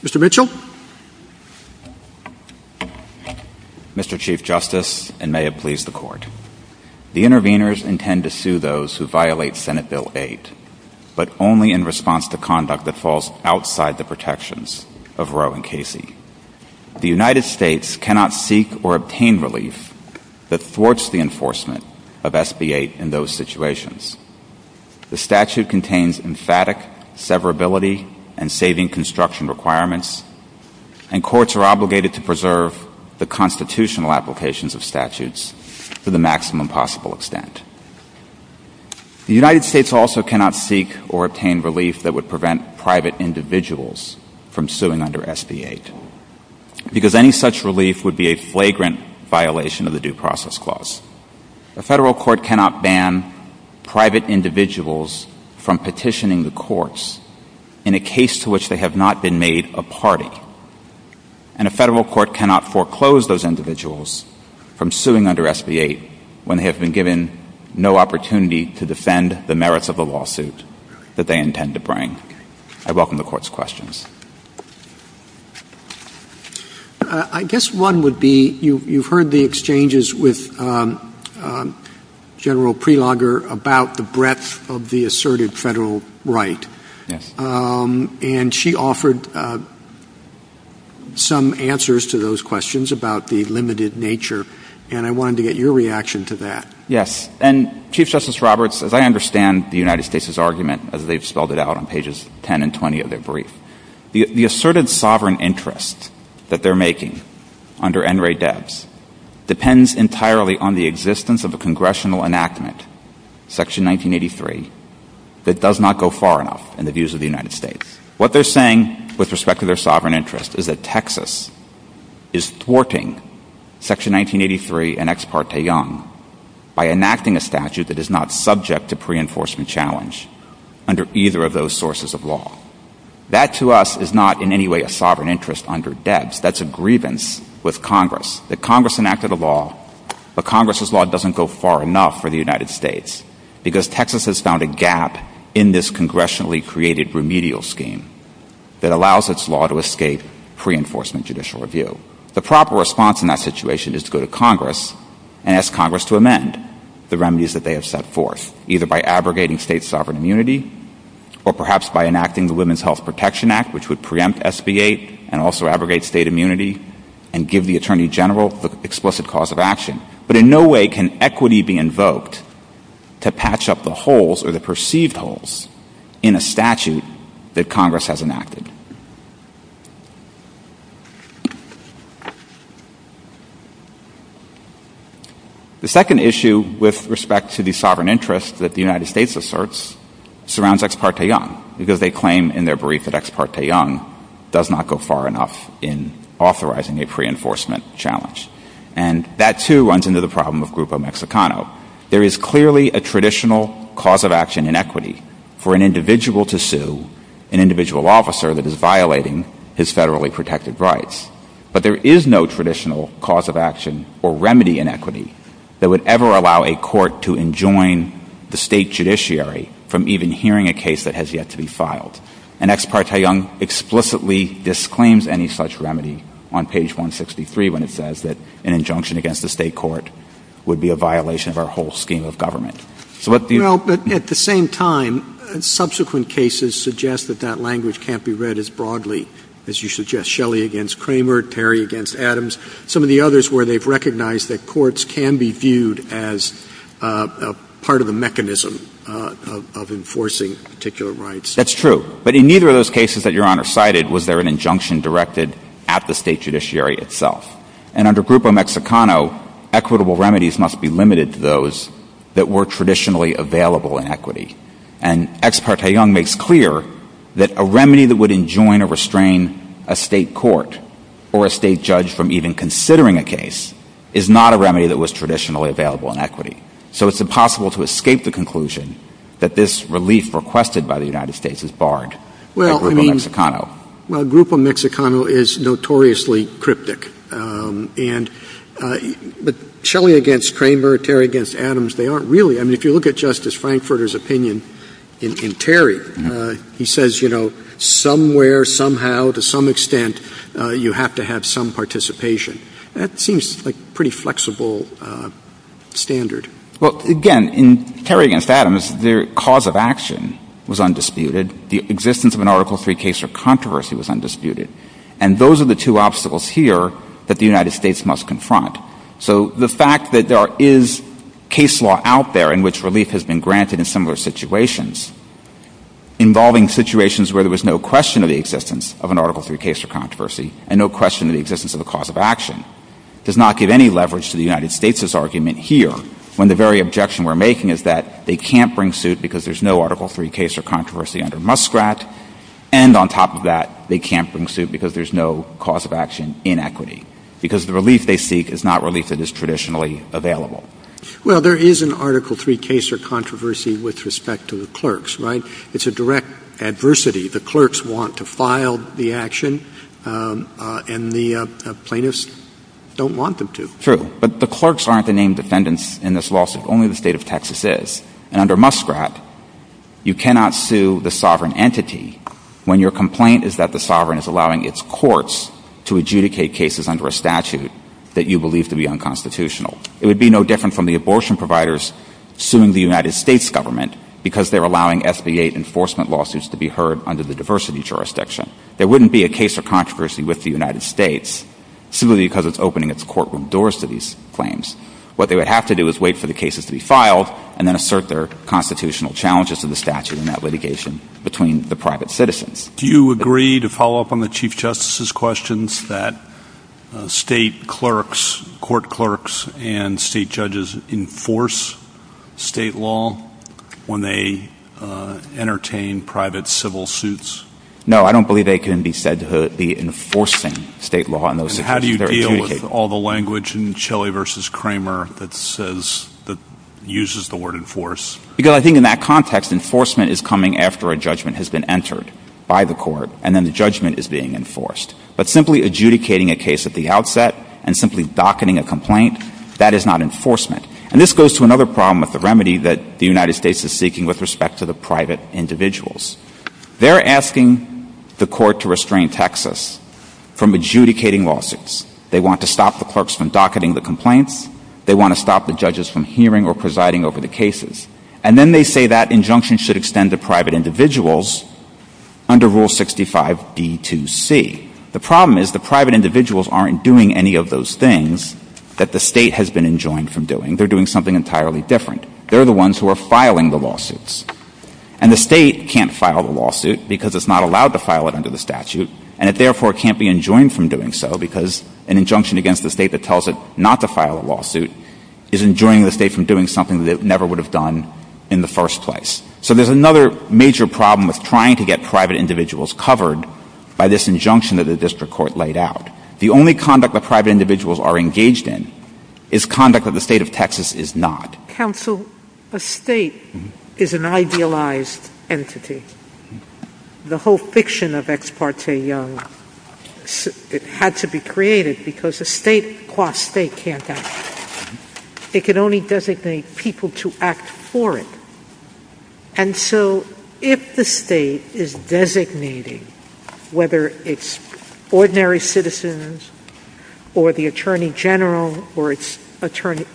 Mr. Mitchell. Mr. Chief Justice, and may it please the court. The interveners intend to sue those who violate Senate Bill 8, but only in response to conduct that falls outside the protections of Roe v. Casey. The United States cannot seek or obtain relief that thwarts the enforcement of SB 8 in those situations. The statute contains emphatic severability and saving construction requirements, and courts are obligated to preserve the constitutional applications of statutes to the maximum possible extent. The United States also cannot seek or obtain relief that would prevent private individuals from suing under SB 8, because any such relief would be a flagrant violation of the due process clause. A federal court cannot ban private individuals from petitioning the courts in a case to which they have not been made a party, and a federal court cannot foreclose those individuals from suing under SB 8 when they have been given no opportunity to defend the merits of the lawsuit that they intend to bring. I welcome the court's questions. I guess one would be, you've heard the exchanges with General Prelogger about the breadth of the asserted federal right, and she offered some answers to those questions about the limited nature, and I wanted to get your reaction to that. Yes, and Chief Justice Roberts, as I understand the United States' argument, as they've spelled it out on pages 10 and 20 of their brief, the asserted sovereign interest that they're making under NRA devs depends entirely on the existence of a congressional enactment, Section 1983, that does not go far enough in the views of the United States. What they're saying with respect to their sovereign interest is that Texas is thwarting Section 1983 and Ex Parte Young by enacting a statute that is not subject to pre-enforcement challenge under either of those sources of law. That, to us, is not in any way a sovereign interest under devs. That's a grievance with Congress, that Congress enacted a law, but Congress' law doesn't go far enough for the United States, because Texas has found a gap in this congressionally created remedial scheme that allows its law to escape pre-enforcement judicial review. The proper response in that situation is to go to Congress and ask Congress to amend the remedies that they have set forth, either by abrogating state sovereign immunity, or perhaps by enacting the Women's Health Protection Act, which would preempt SB 8 and also abrogate state immunity, and give the Attorney General the explicit cause of action. But in no way can equity be invoked to patch up the holes or the perceived holes in a statute that Congress has enacted. The second issue with respect to the sovereign interest that the United States asserts surrounds Ex Parte Young, because they claim in their brief that Ex Parte Young does not go far enough in authorizing a pre-enforcement challenge. And that, too, runs into the problem of Grupo Mexicano. There is clearly a traditional cause of action in equity for an individual to sue an individual officer that is violating his federally protected rights. But there is no traditional cause of action or remedy in equity that would ever allow a court to enjoin the state judiciary from even hearing a case that disclaims any such remedy on page 163 when it says that an injunction against the state court would be a violation of our whole scheme of government. At the same time, subsequent cases suggest that that language can't be read as broadly as you suggest. Shelley against Kramer, Terry against Adams, some of the others where they've recognized that courts can be viewed as part of a mechanism of enforcing particular rights. That's true. But in neither of those cases that Your Honor cited was there an injunction directed at the state judiciary itself. And under Grupo Mexicano, equitable remedies must be limited to those that were traditionally available in equity. And Ex Parte Young makes clear that a remedy that would enjoin or restrain a state court or a state judge from even considering a case is not a remedy that was traditionally available in equity. So it's impossible to escape the conclusion that this relief requested by the United States is barred by Grupo Mexicano. Well, Grupo Mexicano is notoriously cryptic. But Shelley against Kramer, Terry against Adams, they aren't really. I mean, if you look at Justice Frankfurter's opinion in Terry, he says, you know, somewhere, somehow, to some extent, you have to have some participation. That seems like a pretty flexible standard. Well, again, in Terry against Adams, the cause of action was undisputed. The existence of an Article III case of controversy was undisputed. And those are the two obstacles here that the United States must confront. So the fact that there is case law out there in which relief has been granted in similar situations involving situations where there was no question of the existence of an Article III case of controversy and no question of the existence of the cause of action does not give any leverage to the United States' argument here, when the very objection we're making is that they can't bring suit because there's no Article III case of controversy under Muskrat. And on top of that, they can't bring suit because there's no cause of action in equity, because the relief they seek is not relief that is traditionally available. Well, there is an Article III case of controversy with respect to the clerks, right? It's a direct adversity. The clerks want to file the action, and the plaintiffs don't want them to. True. But the clerks aren't the named defendants in this lawsuit. Only the state of Texas is. And under Muskrat, you cannot sue the sovereign entity when your complaint is that the sovereign is allowing its courts to adjudicate cases under a statute that you believe to be unconstitutional. It would be no different from the abortion providers suing the United States government because they're allowing SB-8 enforcement lawsuits to be heard under the diversity jurisdiction. There wouldn't be a case of controversy with the United States, simply because it's opening its courtroom doors to these claims. What they would have to do is wait for the cases to be filed, and then assert their constitutional challenges in the statute and that litigation between the private citizens. Do you agree to follow up on the Chief Justice's they entertain private civil suits? No, I don't believe they can be said to be enforcing state law. How do you deal with all the language in Shelley v. Kramer that says, that uses the word enforce? Because I think in that context, enforcement is coming after a judgment has been entered by the court, and then the judgment is being enforced. But simply adjudicating a case at the outset and simply docketing a complaint, that is not enforcement. And this goes to another problem with the remedy that the United States is seeking with respect to the private individuals. They're asking the court to restrain Texas from adjudicating lawsuits. They want to stop the clerks from docketing the complaints. They want to stop the judges from hearing or presiding over the cases. And then they say that injunction should extend to private individuals under Rule 65 D2C. The problem is the private individuals aren't doing any of those things that the state has been enjoined from doing. They're doing something entirely different. They're the ones who are filing the lawsuits. And the state can't file the lawsuit because it's not allowed to file it under the statute, and it therefore can't be enjoined from doing so because an injunction against the state that tells it not to file a lawsuit is enjoining the state from doing something that it never would have done in the first place. So there's another major problem with trying to get private individuals covered by this injunction that the district court laid out. The only conduct that private individuals are engaged in is conduct that the state of Texas is not. Counsel, a state is an idealized entity. The whole fiction of Ex parte Young, it had to be created because a state qua state can't act. It can only designate people to act for it. And so if the state is designating, whether it's ordinary citizens or the attorney general or its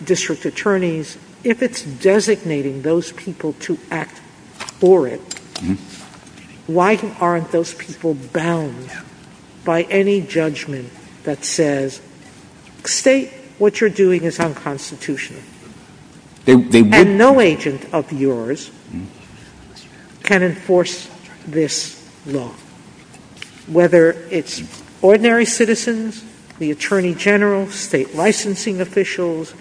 district attorneys, if it's designating those people to act for it, why aren't those people bound by any judgment that says, state, what you're doing is unconstitutional? And no agent of yours can enforce this law. Whether it's ordinary citizens, the attorney general, state licensing officials,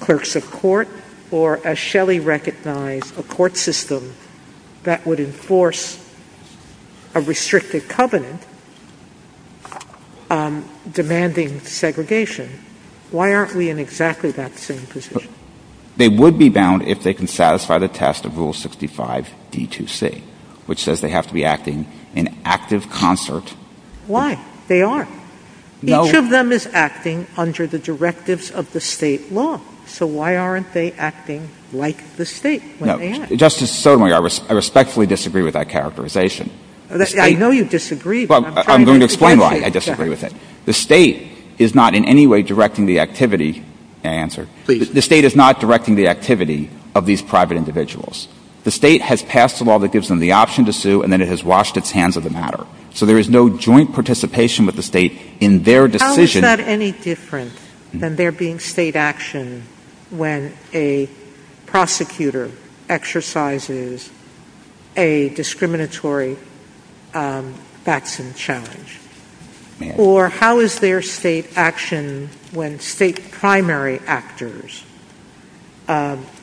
clerks of court, or as Shelley recognized, a court system that would enforce a restricted covenant demanding segregation. Why aren't we in exactly that same position? They would be bound if they can satisfy the test of Rule 65 D2C, which says they have to be acting in active concert. Why? They aren't. Each of them is acting under the directives of the state law. So why aren't they acting like the state? Justice Sotomayor, I respectfully disagree with that characterization. I know you disagree. I'm going to explain why I disagree with it. The state is not in any way directing the activity, may I answer? The state is not directing the activity of these private individuals. The state has passed a law that gives them the option to sue and then it has washed its hands of the matter. So there is no joint participation with the state in their decision. How is that any different than there being state action when a prosecutor exercises a discriminatory vaccine challenge? Or how is there state action when state primary actors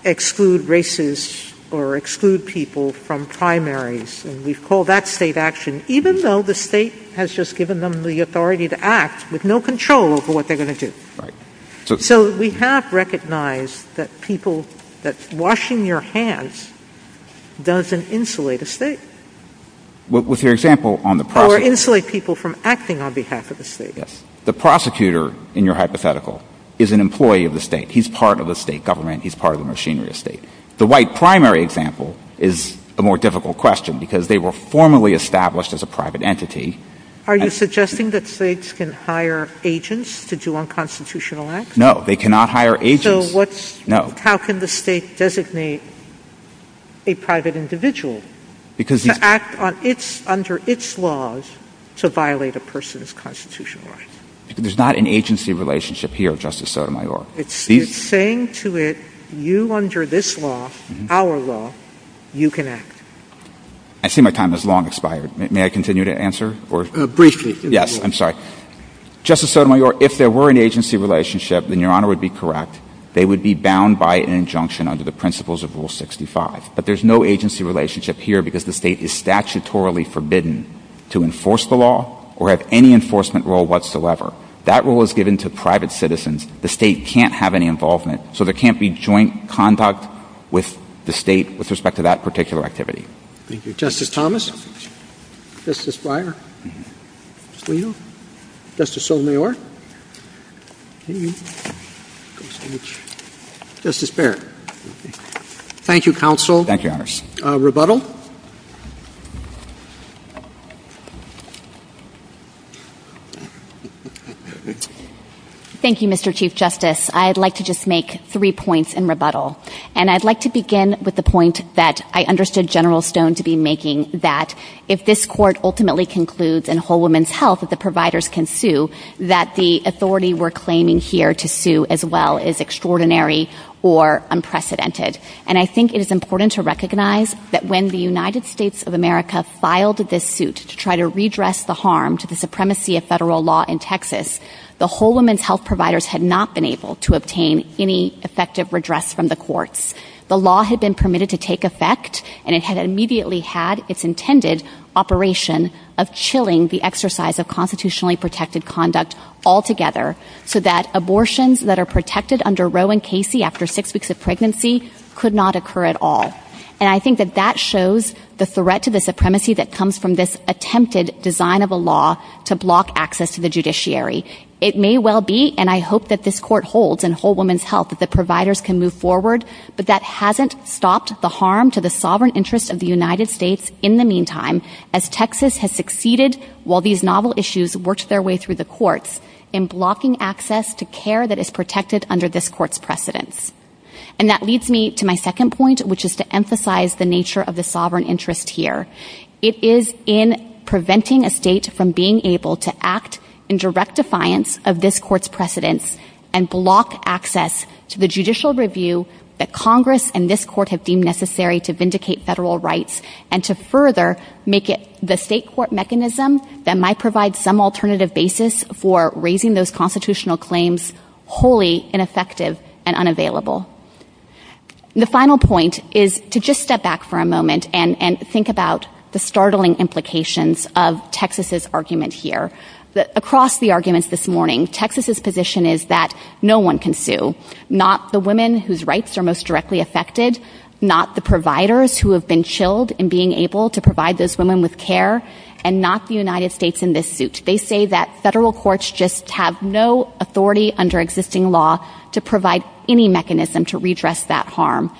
exclude racists or exclude people from primaries? And we've called that state action, even though the state has just given them the authority to act with no control over what they're going to do. So we have recognized that washing your hands doesn't insulate a state or insulate people from acting on behalf of the state. The prosecutor, in your hypothetical, is an employee of the state. He's part of the state government. He's part of the machinery of the state. The white primary example is a more Are you suggesting that states can hire agents to do unconstitutional acts? No, they cannot hire agents. So how can the state designate a private individual to act under its laws to violate a person's constitutional rights? There's not an agency relationship here, Justice Sotomayor. It's saying to it, you under this law, our law, you can act. I see my time has long expired. May I continue to answer? Briefly. Yes, I'm sorry. Justice Sotomayor, if there were an agency relationship, then Your Honor would be correct. They would be bound by an injunction under the principles of Rule 65. But there's no agency relationship here because the state is statutorily forbidden to enforce the law or have any enforcement role whatsoever. That role is given to private citizens. The state can't have any involvement. So there can't be joint conduct with the state with respect to that particular activity. Thank you, Justice Thomas. Justice Breyer. Justice Leal. Justice Sotomayor. Justice Barrett. Thank you, counsel. Rebuttal. Thank you, Mr. Chief Justice. I'd like to just make three points in rebuttal. And I'd like to begin with the point that I understood General Stone to be making, that if this court ultimately concludes in Whole Woman's Health that the providers can sue, that the authority we're claiming here to sue as well is extraordinary or unprecedented. And I think it is important to recognize that when the United States of America filed this suit to try to redress the harm to the supremacy of federal law in Texas, the Whole Woman's Health providers had not been able to obtain any effective redress from the courts. The law had been permitted to take effect, and it had immediately had its intended operation of chilling the exercise of constitutionally protected conduct altogether so that abortions that are protected under Roe and Casey after six weeks of pregnancy could not occur at all. And I think that that shows the threat to the supremacy that comes from this attempted design of a law to block access to the judiciary. It may well be, and I hope that this court holds in Whole Woman's Health that the providers can move forward, but that hasn't stopped the harm to the sovereign interest of the United States in the meantime as Texas has succeeded while these novel issues worked their way through the courts in blocking access to care that is protected under this court's precedence. And that leads me to my second point, which is to emphasize the nature of the sovereign interest here. It is in preventing a state from being able to act in direct defiance of this court's precedence and block access to the judicial review that Congress and this court have deemed necessary to vindicate federal rights and to further make it the state court mechanism that might provide some alternative basis for raising those constitutional claims wholly ineffective and unavailable. The final point is to just step back for a moment and think about the startling implications of Texas's argument here. Across the arguments this morning, Texas's position is that no one can sue, not the women whose rights are most directly affected, not the providers who have been chilled in being able to provide those women with care, and not the United States in this suit. They say that federal courts just have no authority under existing law to provide any mechanism to redress that harm.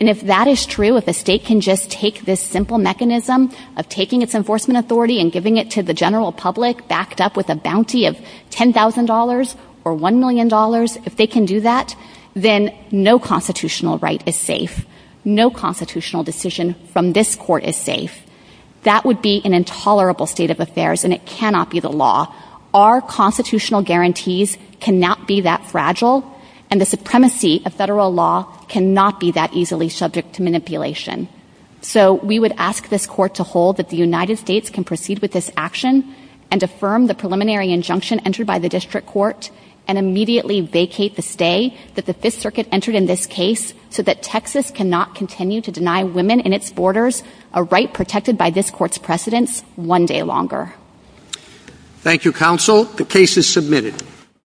And if that is true, if a state can just take this simple mechanism of taking its enforcement authority and giving it to the general public backed up with a bounty of $10,000 or $1 million, if they can do that, then no constitutional right is safe. No constitutional decision from this court is safe. That would be an intolerable state of affairs, and it cannot be the law. Our constitutional guarantees cannot be that fragile, and the supremacy of federal law cannot be that easily subject to manipulation. So we would ask this court to hold that the United States can proceed with this action and affirm the preliminary injunction entered by the district court and immediately vacate the district entered in this case so that Texas cannot continue to deny women in its borders a right protected by this court's precedents one day longer. Thank you, counsel. The case is submitted.